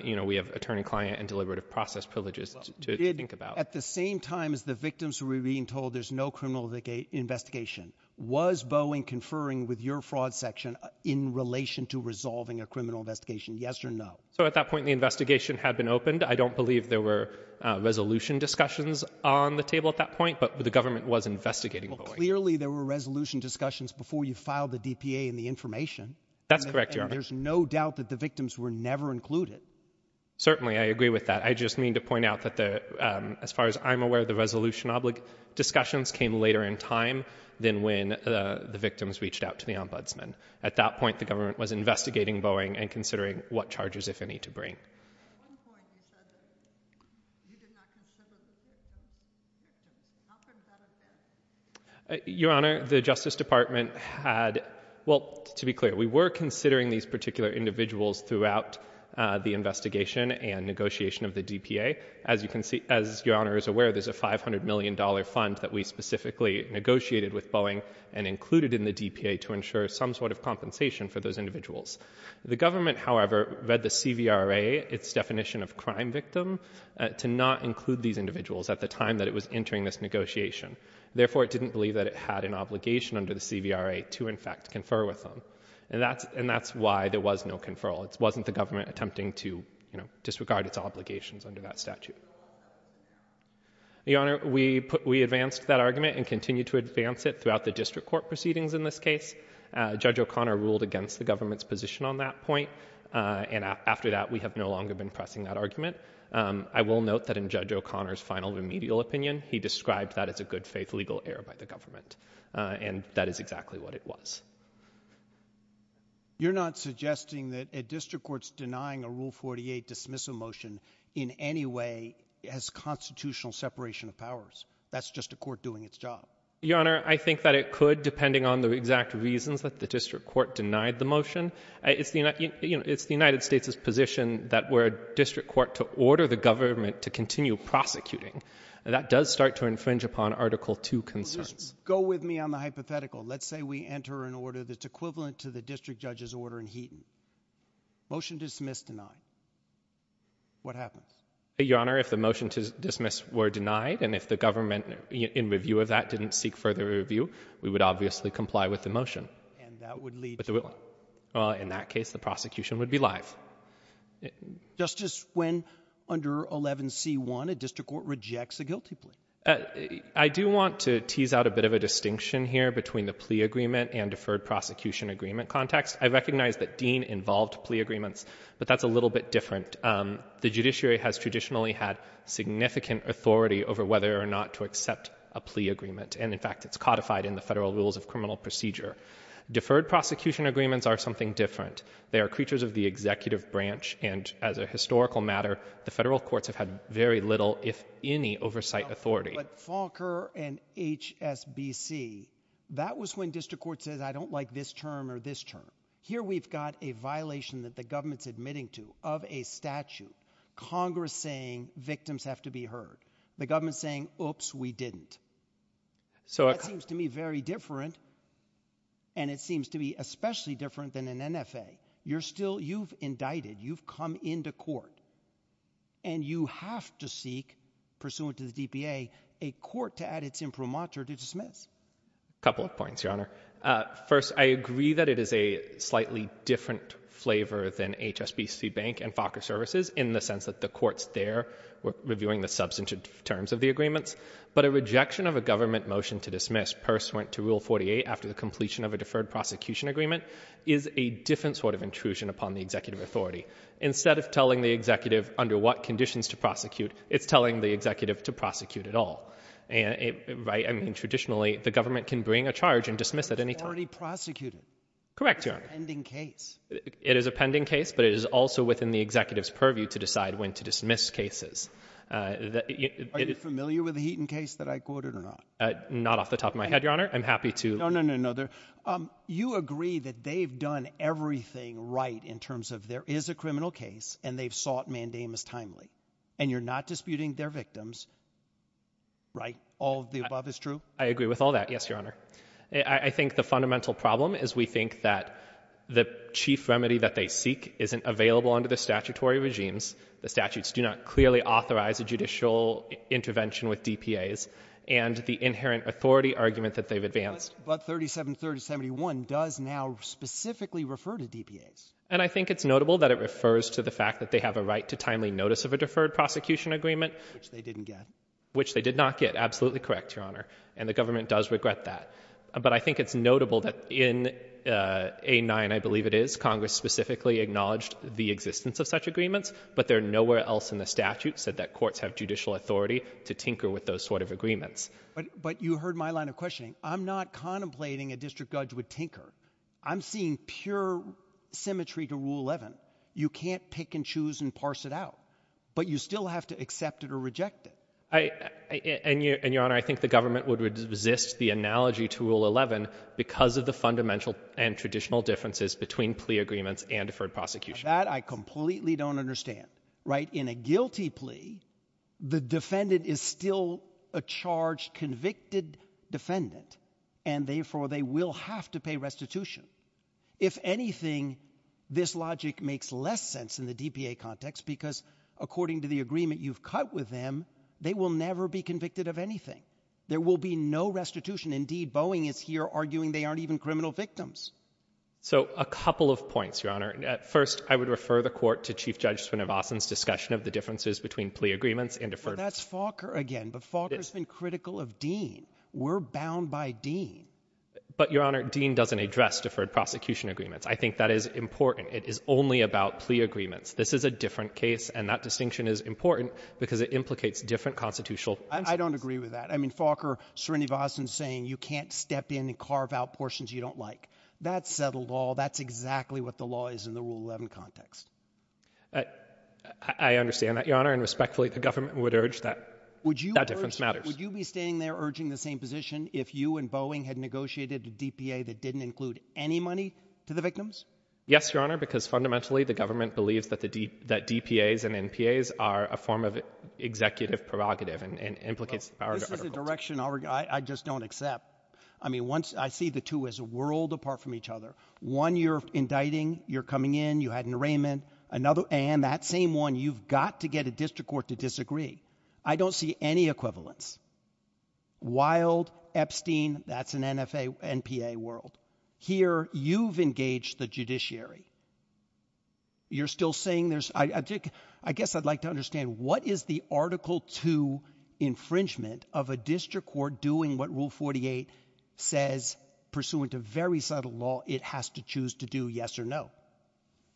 you know, we have attorney client and deliberative process privileges to think about. At the same time as the victims were being told there's no criminal investigation, was Boeing conferring with your fraud section in relation to resolving a criminal investigation? Yes or no? So at that point, the investigation had been opened. I don't believe there were resolution discussions on the table at that point, but the government was investigating. Clearly there were resolution discussions before you filed the DPA and the information. That's correct, Your Honor. There's no doubt that the victims were never included. Certainly. I agree with that. I just need to point out that the, as far as I'm aware, the resolution discussions came later in time than when the victims reached out to the ombudsman. At that point, the government was investigating Boeing and considering what charges if any to bring. Your Honor, the Justice Department had, well, to be clear, we were considering these particular individuals throughout the investigation and negotiation of the DPA. As you can see, as Your Honor is aware, there's a $500 million fund that we specifically negotiated with Boeing and included in the DPA to ensure some sort of compensation for those individuals. The government, however, read the CVRA, its definition of crime victim, to not include these individuals at the time that it was entering this negotiation. Therefore, it didn't believe that it had an obligation under the CVRA to, in fact, confer with them. And that's why there was no conferral. It wasn't the government attempting to disregard its obligations under that statute. Your Honor, we advanced that argument and continue to advance it throughout the district court proceedings in this case. Judge O'Connor ruled against the government's position on that point. And after that, we have no longer been pressing that argument. I will note that in Judge O'Connor's final remedial opinion, he described that as a good-faith legal error by the government. And that is exactly what it was. You're not suggesting that a district court's denying a Rule 48 dismissal motion in any way has constitutional separation of powers. That's just a court doing its job. Your Honor, I think that it could, depending on the exact reasons that the district court denied the motion. If the United States is positioned that we're a district court to order the government to continue prosecuting, that does start to infringe upon Article II consent. Go with me on the hypothetical. Let's say we enter an order that's equivalent to the district judge's order in Heaton. Motion dismissed, denied. What happens? Your Honor, if the motion to dismiss were denied, and if the government, in review of that, didn't seek further review, we would obviously comply with the motion. And that would lead to? Well, in that case, the prosecution would be live. Justice, when under 11c1, a district court rejects a guilty plea? I do want to tease out a bit of a distinction here between the plea agreement and deferred prosecution agreement context. I recognize that Dean involved plea agreements, but that's a little bit different. The judiciary has traditionally had significant authority over whether or not to accept a plea agreement. And in fact, it's codified in the Federal Rules of Criminal Procedure. Deferred prosecution agreements are something different. They're creatures of the executive branch, and as a historical matter, the federal courts have had very little, if any, oversight authority. But Falker and HSBC, that was when district court said, I don't like this term or this term. Here we've got a violation that the government's admitting to of a statute, Congress saying victims have to be heard. The government's saying, oops, we didn't. So it seems to me very different, and it seems to be especially different than an NFA. You're still, you've indicted. You've come into court, and you have to seek, pursuant to the BPA, a court to add its imprimatur to dismiss. A couple of points, Your Honor. First, I agree that it is a slightly different flavor than HSBC Bank and Falker Services in the sense that the court's there reviewing the substantive terms of the agreements. But a rejection of a government motion to dismiss pursuant to Rule 48 after the completion of a deferred prosecution agreement is a different sort of intrusion upon the executive authority. Instead of telling the executive under what conditions to prosecute, it's telling the executive to prosecute at all. Right? I mean, traditionally, the government can bring a charge and dismiss at any time. It's already prosecuted. Correct, Your Honor. It's a pending case. It is a pending case, but it is also within the executive's purview to decide when to dismiss cases. Are you familiar with the Heaton case that I quoted or not? Not off the top of my head, Your Honor. I'm happy to... No, no, no, no. You agree that they've done everything right in terms of there is a criminal case and they've sought mandamus timely. And you're not disputing their victims, right? All of the above is true? I agree with all that. Yes, Your Honor. I think the fundamental problem is we think that the chief remedy that they seek isn't available under the statutory regimes. The statutes do not clearly authorize a judicial intervention with DPAs. And the inherent authority argument that they've advanced... But 373071 does now specifically refer to DPAs. And I think it's notable that it refers to the fact that they have a right to timely notice of a deferred prosecution agreement. Which they didn't get. Which they did not get. Absolutely correct, Your Honor. And the government does regret that. But I think it's notable that in A9, I believe it is, Congress specifically acknowledged the existence of such agreements, but they're nowhere else in the statute said that courts have judicial authority to tinker with those sort of agreements. But you heard my line of questioning. I'm not contemplating a district judge would tinker. I'm seeing pure symmetry to Rule 11. You can't pick and choose and parse it out. But you still have to accept it or reject it. And Your Honor, I think the government would resist the analogy to Rule 11 because of the fundamental and traditional differences between plea agreements and deferred prosecution. That I completely don't understand, right? In a guilty plea, the defendant is still a charged, convicted defendant. And therefore, they will have to pay restitution. If anything, this logic makes less sense in the DPA context because according to the agreement you've cut with them, they will never be convicted of anything. There will be no restitution. Indeed, Boeing is here arguing they aren't even criminal victims. So a couple of points, Your Honor. First, I would refer the court to Chief Judge Srinivasan's discussion of the differences between plea agreements and deferred prosecution. That's Falker again. But Falker's been critical of Dean. We're bound by Dean. But Your Honor, Dean doesn't address deferred prosecution agreements. I think that is important. It is only about plea agreements. This is a different case. And that distinction is important because it implicates different constitutional... I don't agree with that. I mean, Falker, Srinivasan's saying you can't step in and carve out portions you don't like. That's that law. That's exactly what the law is in the Rule 11 context. I understand that, Your Honor. And respectfully, the government would urge that that difference matters. Would you be standing there urging the same position if you and Boeing had negotiated a DPA that didn't include any money to the victims? Yes, Your Honor, because fundamentally the government believes that DPAs and NPAs are a form of executive prerogative and implicate... This is a direction I just don't accept. I mean, once I see the two as a world apart from each other, one, you're indicting. You're coming in. You had an arraignment. Another... And that same one, you've got to get a district court to disagree. I don't see any equivalence. Wild, Epstein, that's an NFA, NPA world. Here you've engaged the judiciary. You're still saying there's... I guess I'd like to understand what is the Article 2 infringement of a district court doing what Rule 48 says, pursuant to very subtle law, it has to choose to do yes or no.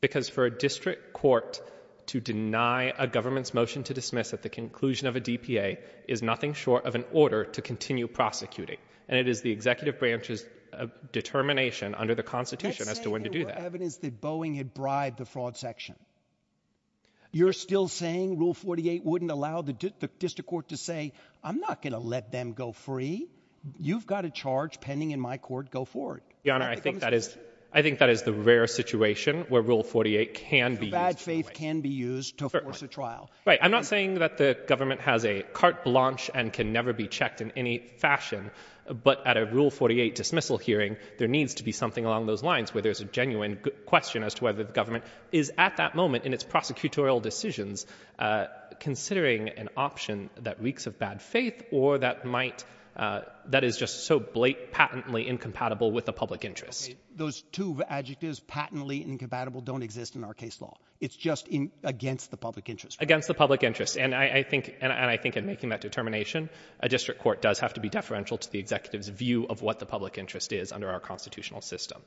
Because for a district court to deny a government's motion to dismiss at the conclusion of a DPA is nothing short of an order to continue prosecuting, and it is the executive branch's determination under the Constitution as to when to do that. I'm saying there's evidence that Boeing had bribed the fraud section. You're still saying Rule 48 wouldn't allow the district court to say, I'm not going to let them go free. You've got a charge pending in my court. Go forward. Your Honor, I think that is the rare situation where Rule 48 can be used. Bad faith can be used to force a trial. Right. I'm not saying that the government has a carte blanche and can never be checked in any fashion, but at a Rule 48 dismissal hearing, there needs to be something along those lines where there's a genuine question as to whether the government is at that moment in its prosecutorial decisions considering an option that reeks of bad faith or that is just so blatantly incompatible with the public interest. Those two adjectives, patently incompatible, don't exist in our case law. It's just against the public interest. Against the public interest. And I think in making that determination, a district court does have to be deferential to the executive's view of what the public interest is under our constitutional system.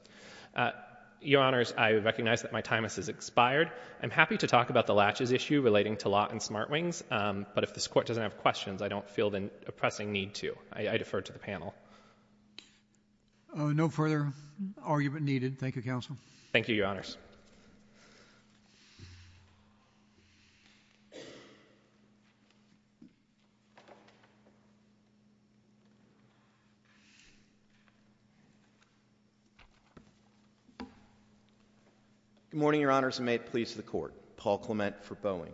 Your Honors, I recognize that my time has expired. I'm happy to talk about the latches issue relating to law and smart wings, but if this Court doesn't have questions, I don't feel the pressing need to. I defer to the panel. No further argument needed. Thank you, Your Honors. Good morning, Your Honors, and may it please the Court. Paul Clement for Boeing.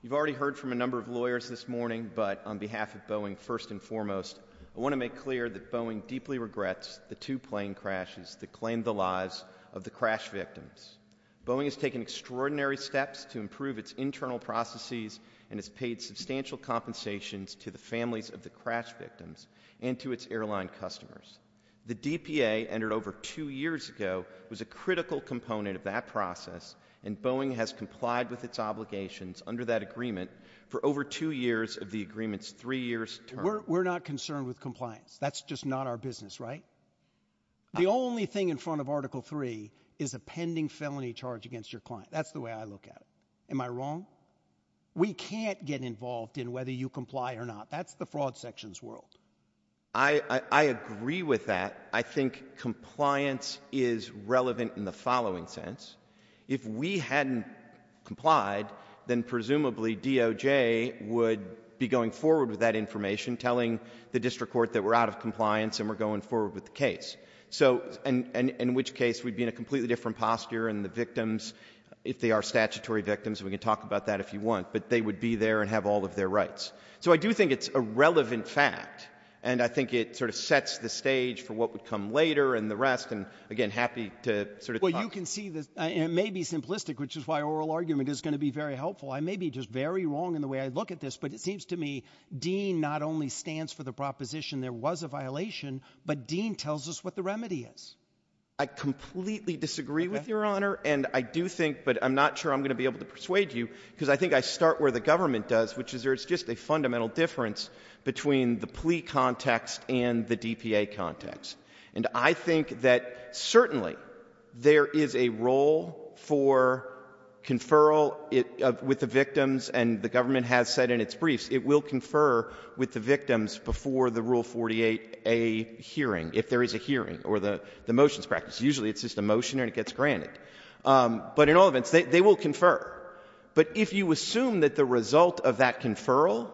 You've already heard from a number of lawyers this morning, but on behalf of Boeing, first and foremost, I want to make clear that Boeing deeply regrets the two plane crashes that Boeing has taken extraordinary steps to improve its internal processes and has paid substantial compensations to the families of the crash victims and to its airline customers. The DPA, entered over two years ago, was a critical component of that process, and Boeing has complied with its obligations under that agreement for over two years of the agreement's three years term. We're not concerned with compliance. That's just not our business, right? The only thing in front of Article III is a pending felony charge against your client. That's the way I look at it. Am I wrong? We can't get involved in whether you comply or not. That's the fraud sections world. I agree with that. I think compliance is relevant in the following sense. If we hadn't complied, then presumably DOJ would be going forward with that information, telling the district court that we're out of compliance and we're going forward with the case, in which case we'd be in a completely different posture, and the victims, if they are statutory victims, we can talk about that if you want, but they would be there and have all of their rights. I do think it's a relevant fact, and I think it sets the stage for what would come later and the rest. Again, happy to talk. Well, you can see that it may be simplistic, which is why oral argument is going to be very helpful. I may be just very wrong in the way I look at this, but it seems to me Dean not only stands for the proposition there was a violation, but Dean tells us what the remedy is. I completely disagree with Your Honor, and I do think, but I'm not sure I'm going to be able to persuade you, because I think I start where the government does, which is there's just a fundamental difference between the plea context and the DPA context. And I think that certainly there is a role for conferral with the victims, and the government has said in its briefs it will confer with the victims before the Rule 48a hearing, if there is a hearing, or the motions practice. Usually it's just a motion and it gets granted. But in all events, they will confer. But if you assume that the result of that conferral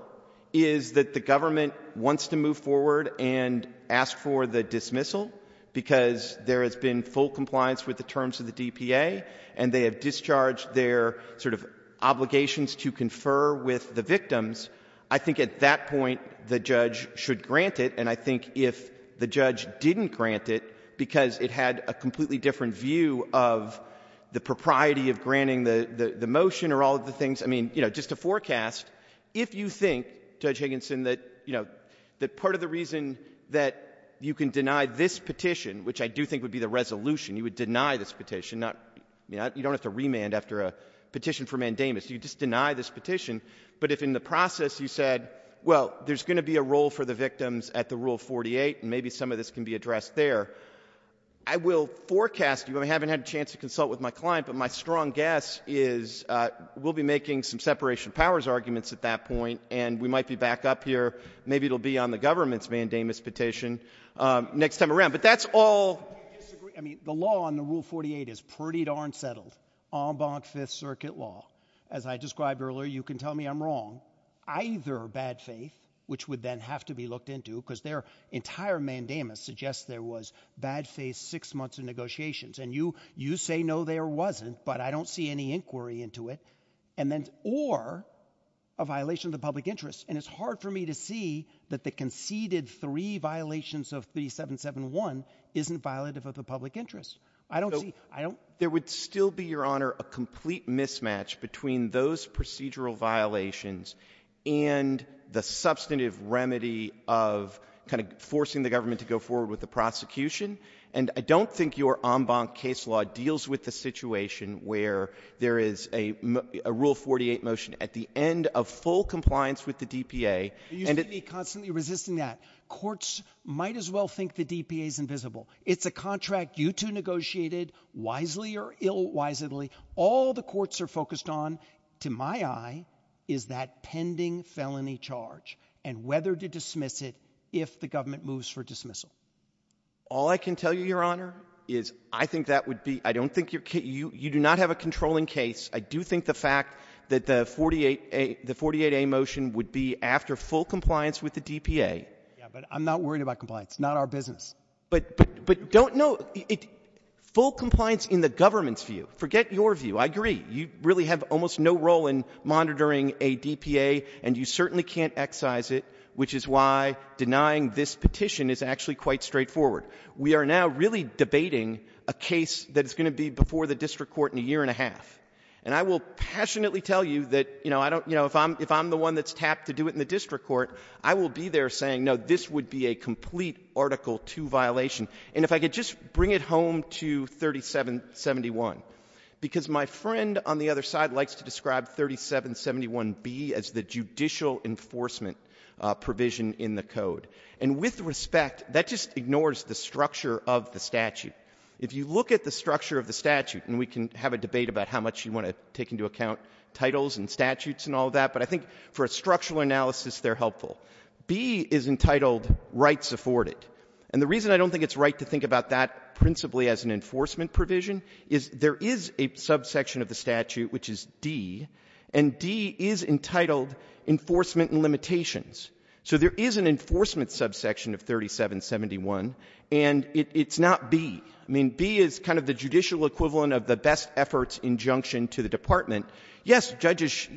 is that the government wants to move forward and ask for the dismissal because there has been full compliance with the terms of the DPA, and they have discharged their sort of obligations to confer with the victims, I think at that point the judge should grant it. And I think if the judge didn't grant it because it had a completely different view of the propriety of granting the motion or all of the things, I mean, you know, just to forecast, if you think, Judge Higginson, that, you know, that part of the reason that you can deny this petition, which I do think would be the resolution, you would deny this petition, you don't have to remand after a petition for mandamus, you just deny this petition, but if in the process you said, well, there's going to be a role for the victims at the Rule 48, and maybe some of this can be addressed there, I will forecast, you know, I haven't had a chance to consult with my strong guess is we'll be making some separation of powers arguments at that point, and we might be back up here, maybe it'll be on the government's mandamus petition next time around. But that's all, I mean, the law on the Rule 48 is pretty darn settled, en banc Fifth Circuit law, as I described earlier, you can tell me I'm wrong, either bad faith, which would then have to be looked into, because their entire mandamus suggests there was bad faith six months of that, I don't see any inquiry into it, and then or a violation of the public interest, and it's hard for me to see that the conceded three violations of the 771 isn't violent of the public interest, I don't know, I don't, there would still be your honor, a complete mismatch between those procedural violations, and the substantive remedy of kind of forcing the government to go forward with the prosecution. And I don't think your en banc case law deals with the situation where there is a Rule 48 motion at the end of full compliance with the DPA, and it's You should be constantly resisting that. Courts might as well think the DPA is invisible. It's a contract you two negotiated, wisely or ill-wisely, all the courts are focused on, to my eye, is that pending felony charge, and whether to dismiss it if the government moves for dismissal. All I can tell you, your honor, is I think that would be, I don't think your, you do not have a controlling case. I do think the fact that the 48A motion would be after full compliance with the DPA. Yeah, but I'm not worried about compliance. It's not our business. But don't, no, full compliance in the government's view. Forget your view. I agree. You really have almost no role in monitoring a DPA, and you certainly can't excise it, which is why denying this petition is actually quite straightforward. We are now really debating a case that is going to be before the district court in a year and a half, and I will passionately tell you that, you know, I don't, you know, if I'm the one that's tapped to do it in the district court, I will be there saying, no, this would be a complete Article II violation, and if I could just bring it home to 3771, because my friend on the other side likes to describe 3771B as the and with respect, that just ignores the structure of the statute. If you look at the structure of the statute, and we can have a debate about how much you want to take into account titles and statutes and all that, but I think for a structural analysis, they're helpful. B is entitled rights afforded, and the reason I don't think it's right to think about that principally as an enforcement provision is there is a subsection of the statute, which is D, and D is entitled enforcement and limitations. So there is an enforcement subsection of 3771, and it's not B. I mean, B is kind of the judicial equivalent of the best efforts injunction to the department. Yes, judges,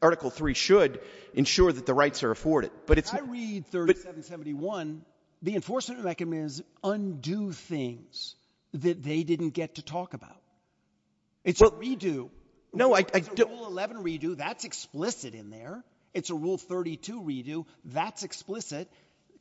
Article III should ensure that the rights are afforded, but it's not. I read 3771, the enforcement recommends undo things that they didn't get to talk about. It's a redo. No, that's explicit in there. It's a Rule 32 redo. That's explicit.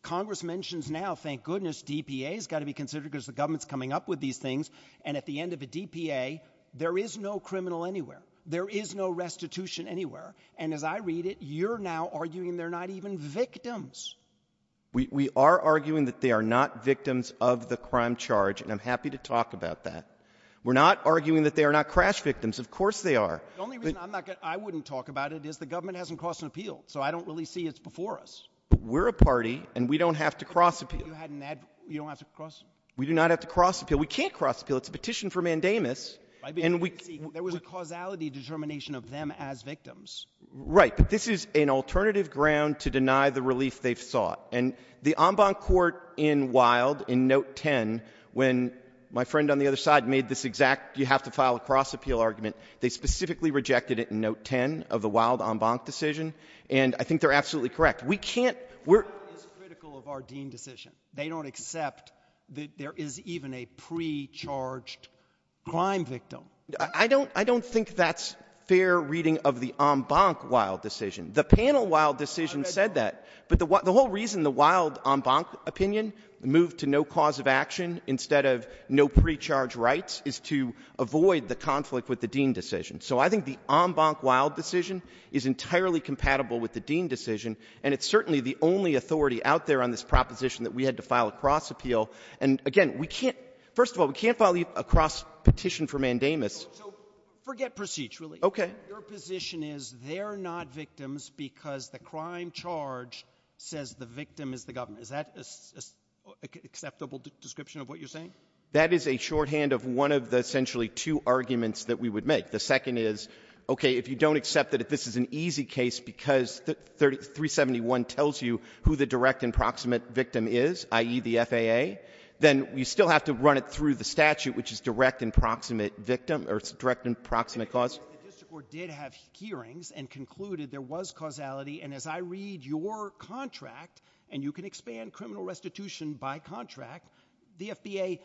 Congress mentions now, thank goodness, DPA has got to be considered because the government's coming up with these things, and at the end of the DPA, there is no criminal anywhere. There is no restitution anywhere, and as I read it, you're now arguing they're not even victims. We are arguing that they are not victims of the crime charge, and I'm happy to talk about that. We're not arguing that they are not crash victims. Of course they are. The only reason I wouldn't talk about it is the government hasn't crossed an appeal, so I don't really see it's before us. We're a party, and we don't have to cross appeal. You don't have to cross? We do not have to cross appeal. We can't cross appeal. It's a petition for mandamus, and we can't. There was a causality determination of them as victims. Right, but this is an alternative ground to deny the release they've sought, and the en banc court in Wilde, in note 10, when my friend on the other side made this exact you have to file a cross appeal argument, they specifically rejected it in note 10 of the Wilde en banc decision, and I think they're absolutely correct. We can't. This is critical of our dean decision. They don't accept that there is even a pre-charged crime victim. I don't think that's fair reading of the en banc Wilde decision. The panel Wilde decision said that, but the whole reason the Wilde en banc opinion moved to no cause of action instead of no pre-charge rights is to avoid the conflict with the dean decision, so I think the en banc Wilde decision is entirely compatible with the dean decision, and it's certainly the only authority out there on this proposition that we had to file a cross appeal, and again, we can't, first of all, we can't file a cross petition for mandamus. Forget proceeds, really. Okay. Your position is they're not victims because the crime charge says the victim is the government. Is that an acceptable description of what you're saying? That is a shorthand of one of the essentially two arguments that we would make. The second is, okay, if you don't accept that this is an easy case because 371 tells you who the direct and proximate victim is, i.e. the FAA, then you still have to run it through the statute, which is direct and proximate victim or direct and proximate cause. Mr. Gore did have hearings and concluded there was causality, and as I read your contract, and you can expand criminal restitution by contract, the FAA,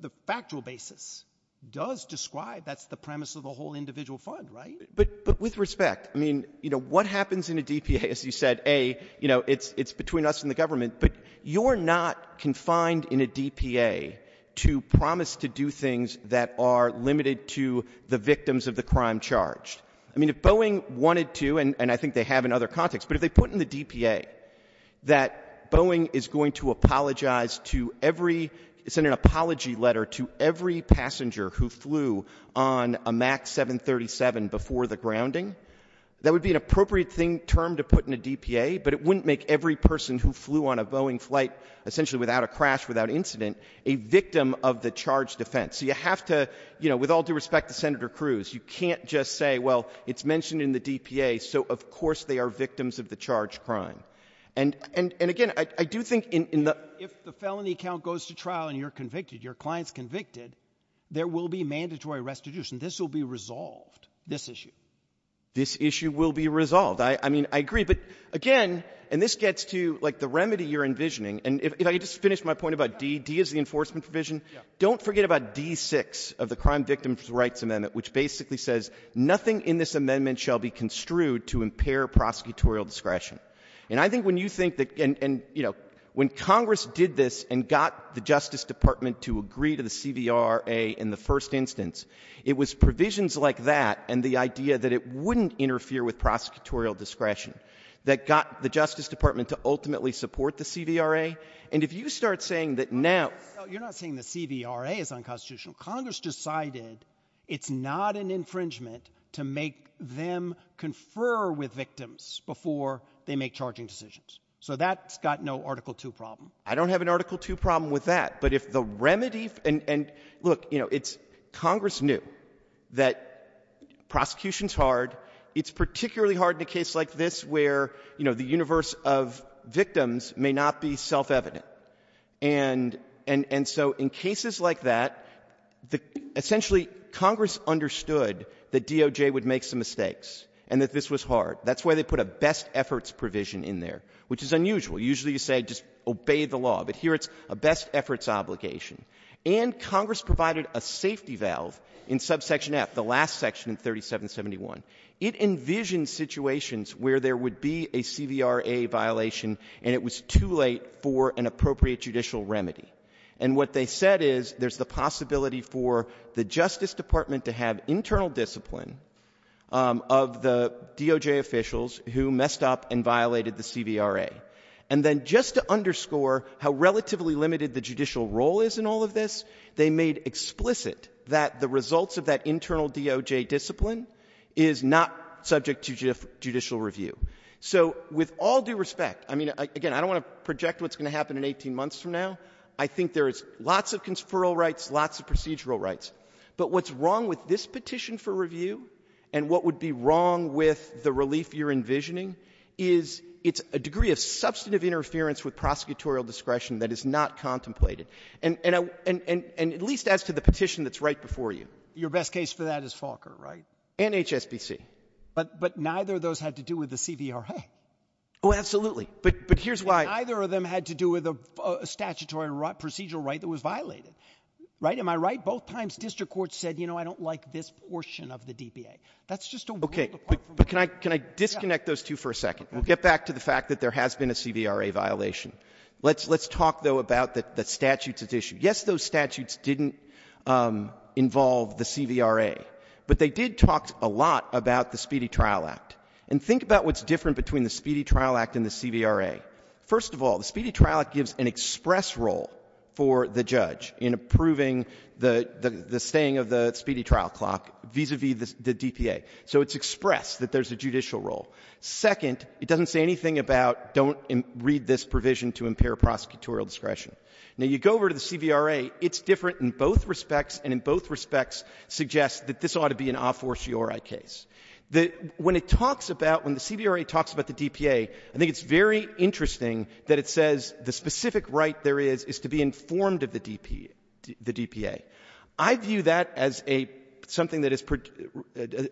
the factual basis, does describe that's the premise of the whole individual fund, right? But with respect, I mean, you know, what happens in a DPA, as you said, A, you know, it's between us and the government, but you're not confined in a DPA to promise to do things that are limited to the victims of the crime charged. I mean, if Boeing wanted to, and I think they have in other contexts, but if they put in the DPA that Boeing is going to apologize to every, it's in an apology letter to every passenger who flew on a MAX 737 before the grounding, that would be an appropriate term to put in the DPA, but it wouldn't make every person who flew on a Boeing flight, essentially without a crash, without incident, a victim of the charged offense. So you have to, you know, with all due respect to Senator Cruz, you can't just say, well, it's mentioned in the DPA, so of course they are victims of the charged crime. And again, I do think in the— If the felony account goes to trial and you're convicted, your client's convicted, there will be mandatory restitution. This will be resolved, this issue. This issue will be resolved. I mean, I agree, but again, and this gets to, like, the remedy you're envisioning, and if I could just finish my point about D, D is the enforcement provision, don't forget about D6 of the Crime Victims' Rights Amendment, which basically says nothing in this amendment shall be construed to impair prosecutorial discretion. And I think when you think that, and, you know, when Congress did this and got the Justice Department to agree to the CDRA in the first instance, it was provisions like that and the idea that it wouldn't interfere with prosecutorial discretion that got the Justice Department to ultimately support the CDRA. And if you start saying that now— No, you're not saying the CDRA is unconstitutional. Congress decided it's not an infringement to make them confer with victims before they make charging decisions. So that's got no Article 2 problem. I don't have an Article 2 problem with that. But if the remedy—and, look, you know, it's—Congress knew that prosecution's hard. It's particularly hard in a case like this where, you know, the universe of victims may not be self-evident. And so in cases like that, essentially Congress understood that DOJ would make some mistakes and that this was hard. That's why they put a best efforts provision in there, which is unusual. Usually you say just obey the law. But here it's a best efforts obligation. And Congress provided a safety valve in subsection F, the envisioned situations where there would be a CDRA violation and it was too late for an appropriate judicial remedy. And what they said is there's the possibility for the Justice Department to have internal discipline of the DOJ officials who messed up and violated the CDRA. And then just to underscore how relatively limited the judicial role is in all of this, they made explicit that the results of that internal DOJ discipline is not subject to judicial review. So with all due respect, I mean, again, I don't want to project what's going to happen in 18 months from now. I think there is lots of conspiratorial rights, lots of procedural rights. But what's wrong with this petition for review and what would be wrong with the relief you're envisioning is it's a degree of substantive interference with prosecutorial discretion that is not contemplated. And at least as to the petition that's right before you. Your best case for that is Falker, right? And HSBC. But neither of those had to do with the CDRA. Oh, absolutely. But here's why. Neither of them had to do with a statutory procedural right that was violated. Right? Am I right? Both times district courts said, you know, I don't like this portion of the DPA. That's just a way to Okay. But can I disconnect those two for a second? Get back to the fact that there has a CDRA violation. Let's talk, though, about the statutes at issue. Yes, those statutes didn't involve the CDRA. But they did talk a lot about the Speedy Trial Act. And think about what's different between the Speedy Trial Act and the CDRA. First of all, the Speedy Trial Act gives an express role for the judge in approving the staying of the Speedy Trial Clock vis-a-vis the DPA. So it's expressed that there's a judicial role. Second, it doesn't say anything about don't read this provision to impair prosecutorial discretion. Now, you go over to the CDRA, it's different in both respects, and in both respects suggests that this ought to be an a fortiori case. When it talks about, when the CDRA talks about the DPA, I think it's very interesting that it says the specific right there is is to be informed of the DPA. I view that as something that is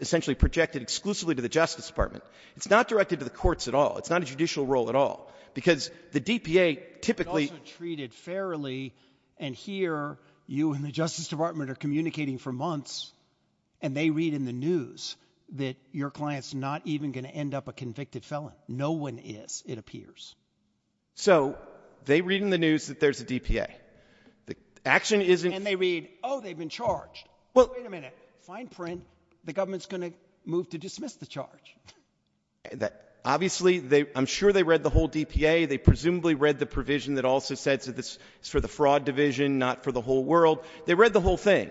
essentially projected exclusively to the Justice Department. It's not directed to the courts at all. It's not a judicial role at all. Because the DPA typically — It ought to be treated fairly. And here, you and the Justice Department are communicating for months, and they read in the news that your client's not even going to end up a convicted felon. No one is, it appears. So they read in the news that there's a DPA. The action isn't — And they read, oh, they've been charged. Well — Wait a minute. Fine print. The government's going to move to dismiss the charge. Obviously, they — I'm sure they read the whole DPA. They presumably read the provision that also said that it's for the fraud division, not for the whole world. They read the whole thing.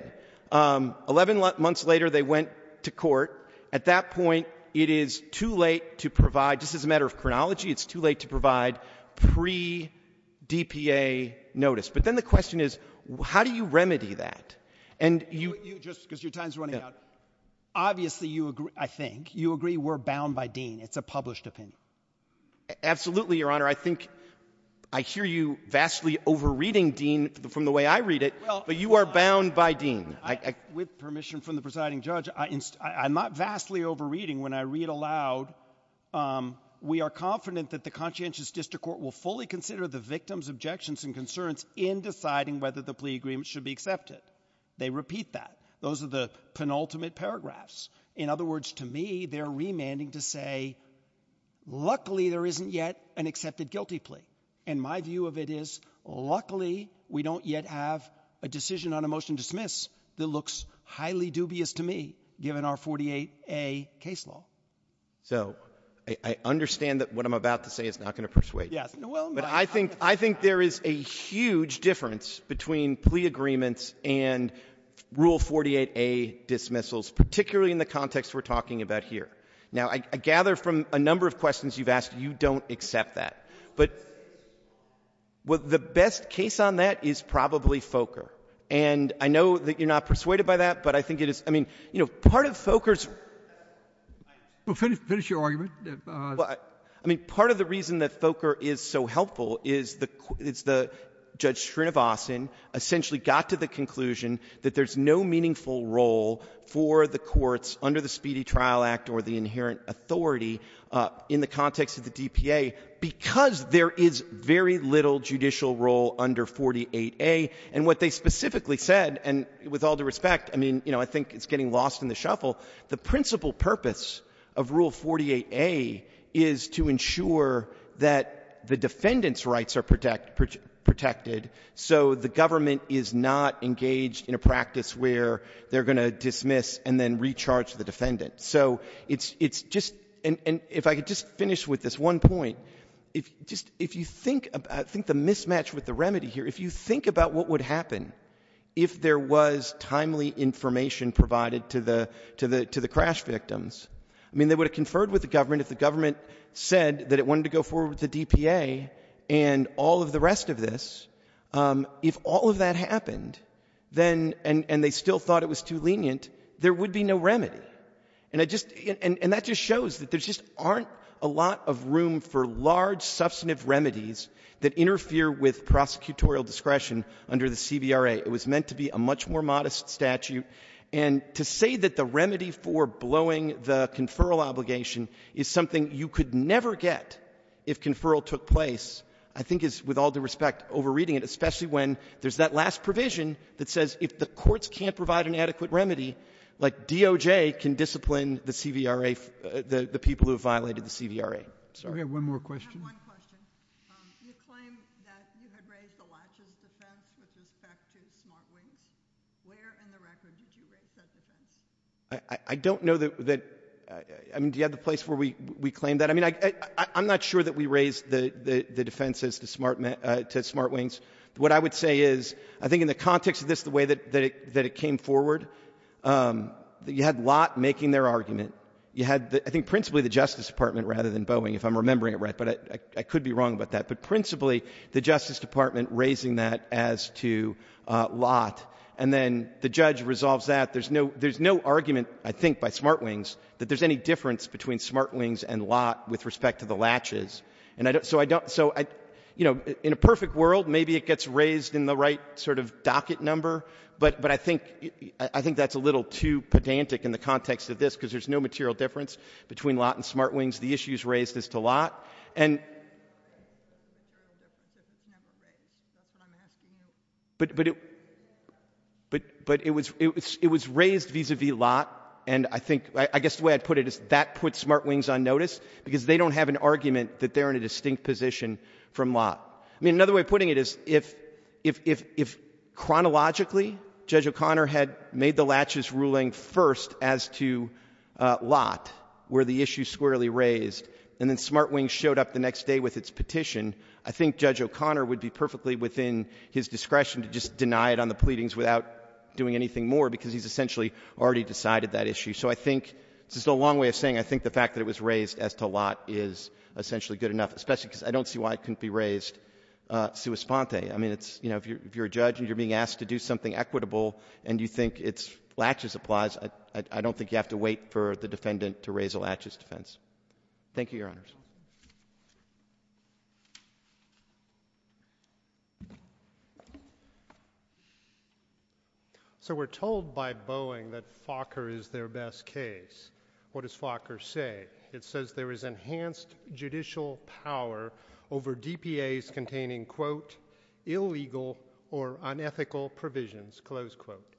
Eleven months later, they went to court. At that point, it is too late to provide — just as a matter of chronology, it's too late to provide pre-DPA notice. But then the question is, how do you remedy that? And you — Just because your time's running out. Obviously, you agree, I think. You agree we're bound by Dean. It's a published offense. Absolutely, Your Honor. I think — I hear you vastly over-reading Dean from the way I read it. Well — But you are bound by Dean. With permission from the presiding judge, I'm not vastly over-reading. When I read aloud, we are confident that the conscientious district court will fully consider the plea agreement should be accepted. They repeat that. Those are the penultimate paragraphs. In other words, to me, they're remanding to say, luckily, there isn't yet an accepted guilty plea. And my view of it is, luckily, we don't yet have a decision on a motion to dismiss that looks highly dubious to me, given our 48A case law. So I understand that what I'm about to say is not going to persuade you. Yes, well — I think there is a huge difference between plea agreements and Rule 48A dismissals, particularly in the context we're talking about here. Now, I gather from a number of questions you've asked, you don't accept that. But the best case on that is probably Fokker. And I know that you're not persuaded by that, but I think it is — I mean, you know, part of Fokker's — Well, finish your argument. Well, I mean, part of the reason that Fokker is so helpful is the — is the — Judge Srinivasan essentially got to the conclusion that there's no meaningful role for the courts under the Speedy Trial Act or the inherent authority in the context of the DPA because there is very little judicial role under 48A. And what they specifically said — and with all due respect, I mean, you know, I think it's getting lost in the shuffle — the principal purpose of Rule 48A is to ensure that the defendant's rights are protected so the government is not engaged in a practice where they're going to dismiss and then recharge the defendant. So it's just — and if I could just finish with this one point, if you think — I think the mismatch with the remedy here, if you think about what would happen if there was timely information provided to the — to the crash victims, I mean, they would have conferred with the government if the government said that it wanted to go forward with the DPA and all of the rest of this. If all of that happened, then — and they still thought it was too lenient, there would be no remedy. And it just — and that just shows that there just aren't a lot of room for large, substantive remedies that interfere with prosecutorial discretion under the CVRA. It was meant to be a much more modest statute. And to say that the remedy for blowing the conferral obligation is something you could never get if conferral took place, I think is, with all due respect, overreading it, especially when there's that last provision that says if the courts can't provide an adequate remedy, like DOJ can discipline the CVRA — the people who have violated the CVRA. Sorry. We have one more question. I have one question. You claim that you have raised the latches defense with respect to smart wings. Where in the record did you raise that defense? I don't know that — I mean, do you have a place where we claim that? I mean, I'm not sure that we raised the defenses to smart wings. What I would say is, I think in the context of this, the way that it came forward, you had Lott making their argument. You had, I think, principally the — if I'm remembering it right, but I could be wrong about that — but principally, the Justice Department raising that as to Lott, and then the judge resolves that. There's no — there's no argument, I think, by smart wings that there's any difference between smart wings and Lott with respect to the latches. And so I don't — so, you know, in a perfect world, maybe it gets raised in the right sort of docket number, but I think that's a little too pedantic in the context of this because there's no material difference between Lott and smart wings as to Lott. But it was raised vis-a-vis Lott, and I think — I guess the way I'd put it is that puts smart wings on notice because they don't have an argument that they're in a distinct position from Lott. I mean, another way of putting it is, if chronologically Judge O'Connor had made the latches ruling first as to Lott, were the issue squarely raised, and then smart wings showed up the next day with its petition, I think Judge O'Connor would be perfectly within his discretion to just deny it on the pleadings without doing anything more because he's essentially already decided that issue. So I think — this is a long way of saying — I think the fact that it was raised as to Lott is essentially good enough, especially because I don't see why it couldn't be raised sua sponte. I mean, it's — you know, if you're a judge and you're being asked to do something equitable and you think it's latches applies, I don't think you have to wait for the defendant to raise a latches defense. Thank you, Your Honors. So we're told by Boeing that Fokker is their best case. What does Fokker say? It says there is enhanced judicial power over DPAs containing, quote, illegal or unethical provisions, close quote.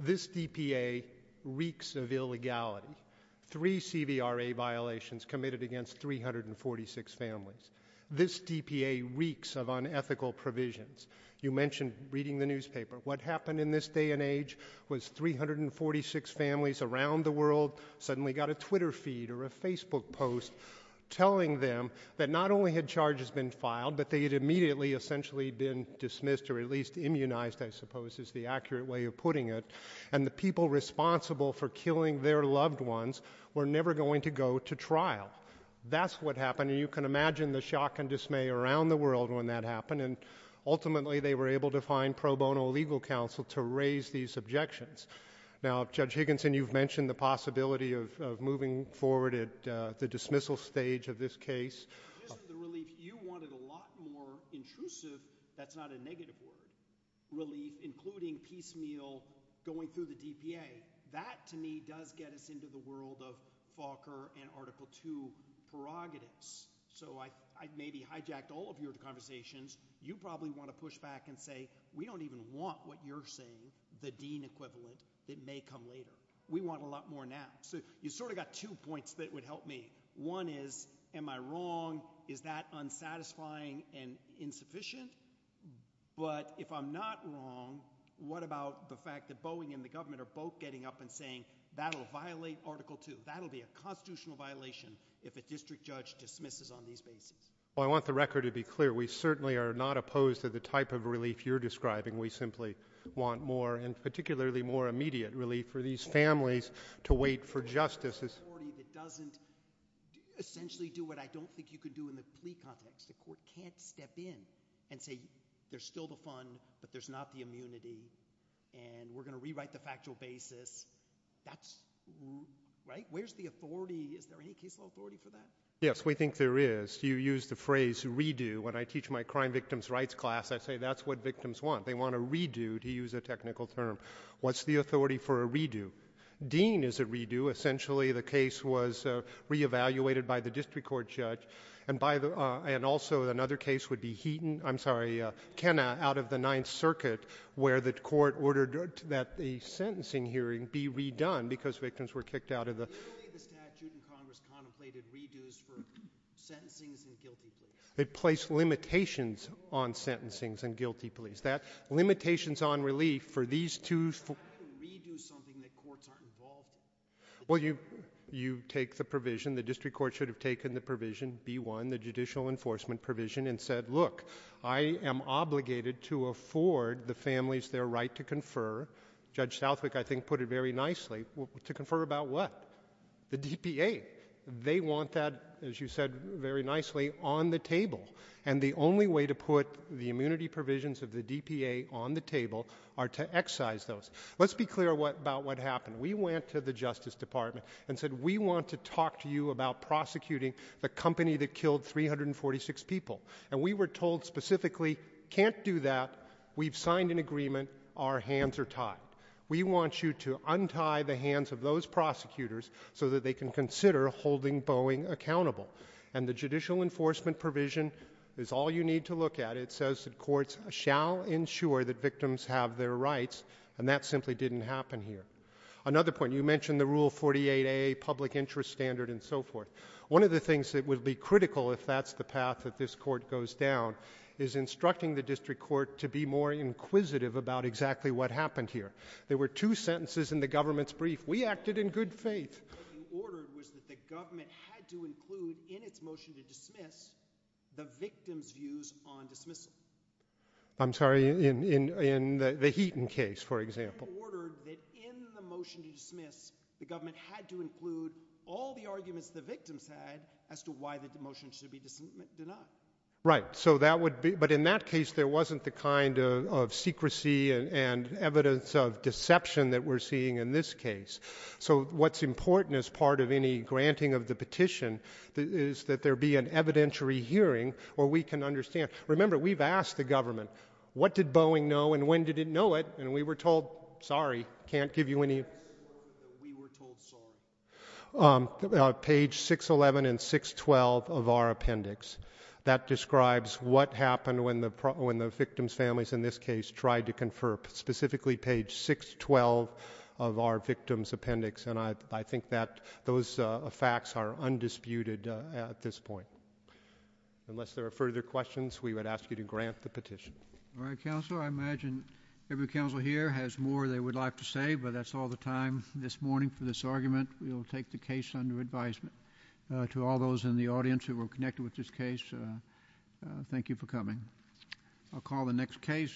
This DPA reeks of illegality. Three CVRA violations committed against 346 families. This DPA reeks of unethical provisions. You mentioned reading the newspaper. What happened in this day and age was 346 families around the world suddenly got a Twitter feed or a Facebook post telling them that not only had charges been filed, but they had immediately essentially been dismissed or at least immunized, I suppose, is the accurate way of putting it. And the people responsible for killing their loved ones were never going to go to trial. That's what happened. And you can imagine the shock and dismay around the world when that happened. And ultimately, they were able to find pro bono legal counsel to raise these objections. Now, Judge Higginson, you've mentioned the possibility of moving forward at the dismissal stage of this case. You wanted a lot more intrusive, that's not a negative word, relief, including piecemeal going through the DPA. That, to me, does get us into the world of Fokker and Article II prerogatives. So I maybe hijacked all of your conversations. You probably want to push back and say, we don't even want what you're saying, the Dean equivalent, that may come later. We want a lot more now. So you've sort of got two points that would help me. One is, am I wrong? Is that unsatisfying and insufficient? But if I'm not wrong, what about the fact that Boeing and the government are both getting up and saying, that'll violate Article II, that'll be a constitutional violation if a district judge dismisses on these cases? Well, I want the record to be clear. We certainly are not opposed to the type of relief you're to wait for justice. It doesn't essentially do what I don't think you could do in the plea context. The court can't step in and say, there's still the fund, but there's not the immunity, and we're going to rewrite the factual basis. That's, right? Where's the authority? Is there any people authority for that? Yes, we think there is. You used the phrase, redo. When I teach my crime victims rights class, I say, that's what victims want. They want a redo, to use a technical term. What's the authority for a redo? Dean is a redo. Essentially, the case was re-evaluated by the district court judge, and also another case would be Heaton, I'm sorry, Kenna, out of the Ninth Circuit, where the court ordered that the sentencing hearing be redone because victims were kicked out of the... The statute in Congress contemplated redos for sentencing and guilty pleas. It placed limitations on sentencing and guilty pleas. Limitations on relief for these two... Well, you take the provision, the district court should have taken the provision, B1, the judicial enforcement provision, and said, look, I am obligated to afford the families their right to confer. Judge Southwick, I think, put it very nicely, to confer about what? The DPA. They want that, as you said very nicely, on the table, and the only way to put the immunity provisions of the DPA on the table are to excise those. Let's be clear about what happened. We went to the Justice Department and said, we want to talk to you about prosecuting the company that killed 346 people, and we were told specifically, can't do that. We've signed an agreement. Our hands are tied. We want you to untie the hands of those prosecutors so that they can consider holding Boeing accountable, and the judicial enforcement provision is all you need to look at. It says the courts shall ensure that victims have their rights, and that simply didn't happen here. Another point, you mentioned the rule 48A, public interest standard, and so forth. One of the things that would be critical if that's the path that this court goes down is instructing the district court to be more inquisitive about exactly what happened here. There were two sentences in the government's brief. We acted in good faith. What you ordered was that the government had to include in its motion to dismiss the victim's views on dismissal. I'm sorry, in the Heaton case, for example. You ordered that in the motion to dismiss, the government had to include all the arguments the victims had as to why the motion should be dismissed. Do not. Right, so that would be, but in that case, there wasn't the kind of secrecy and evidence of deception that we're seeing in this is that there be an evidentiary hearing where we can understand. Remember, we've asked the government, what did Boeing know and when did it know it? And we were told, sorry, can't give you any. Page 611 and 612 of our appendix, that describes what happened when the victim's families in this case tried to confer, specifically page 612 of our victim's appendix, and I think that those facts are undisputed at this point. Unless there are further questions, we would ask you to grant the petition. All right, counsel, I imagine every counsel here has more they would like to say, but that's all the time this morning for this argument. We will take the case under advisement. To all those in the audience who were connected with this case, thank you for coming. I'll call the next case.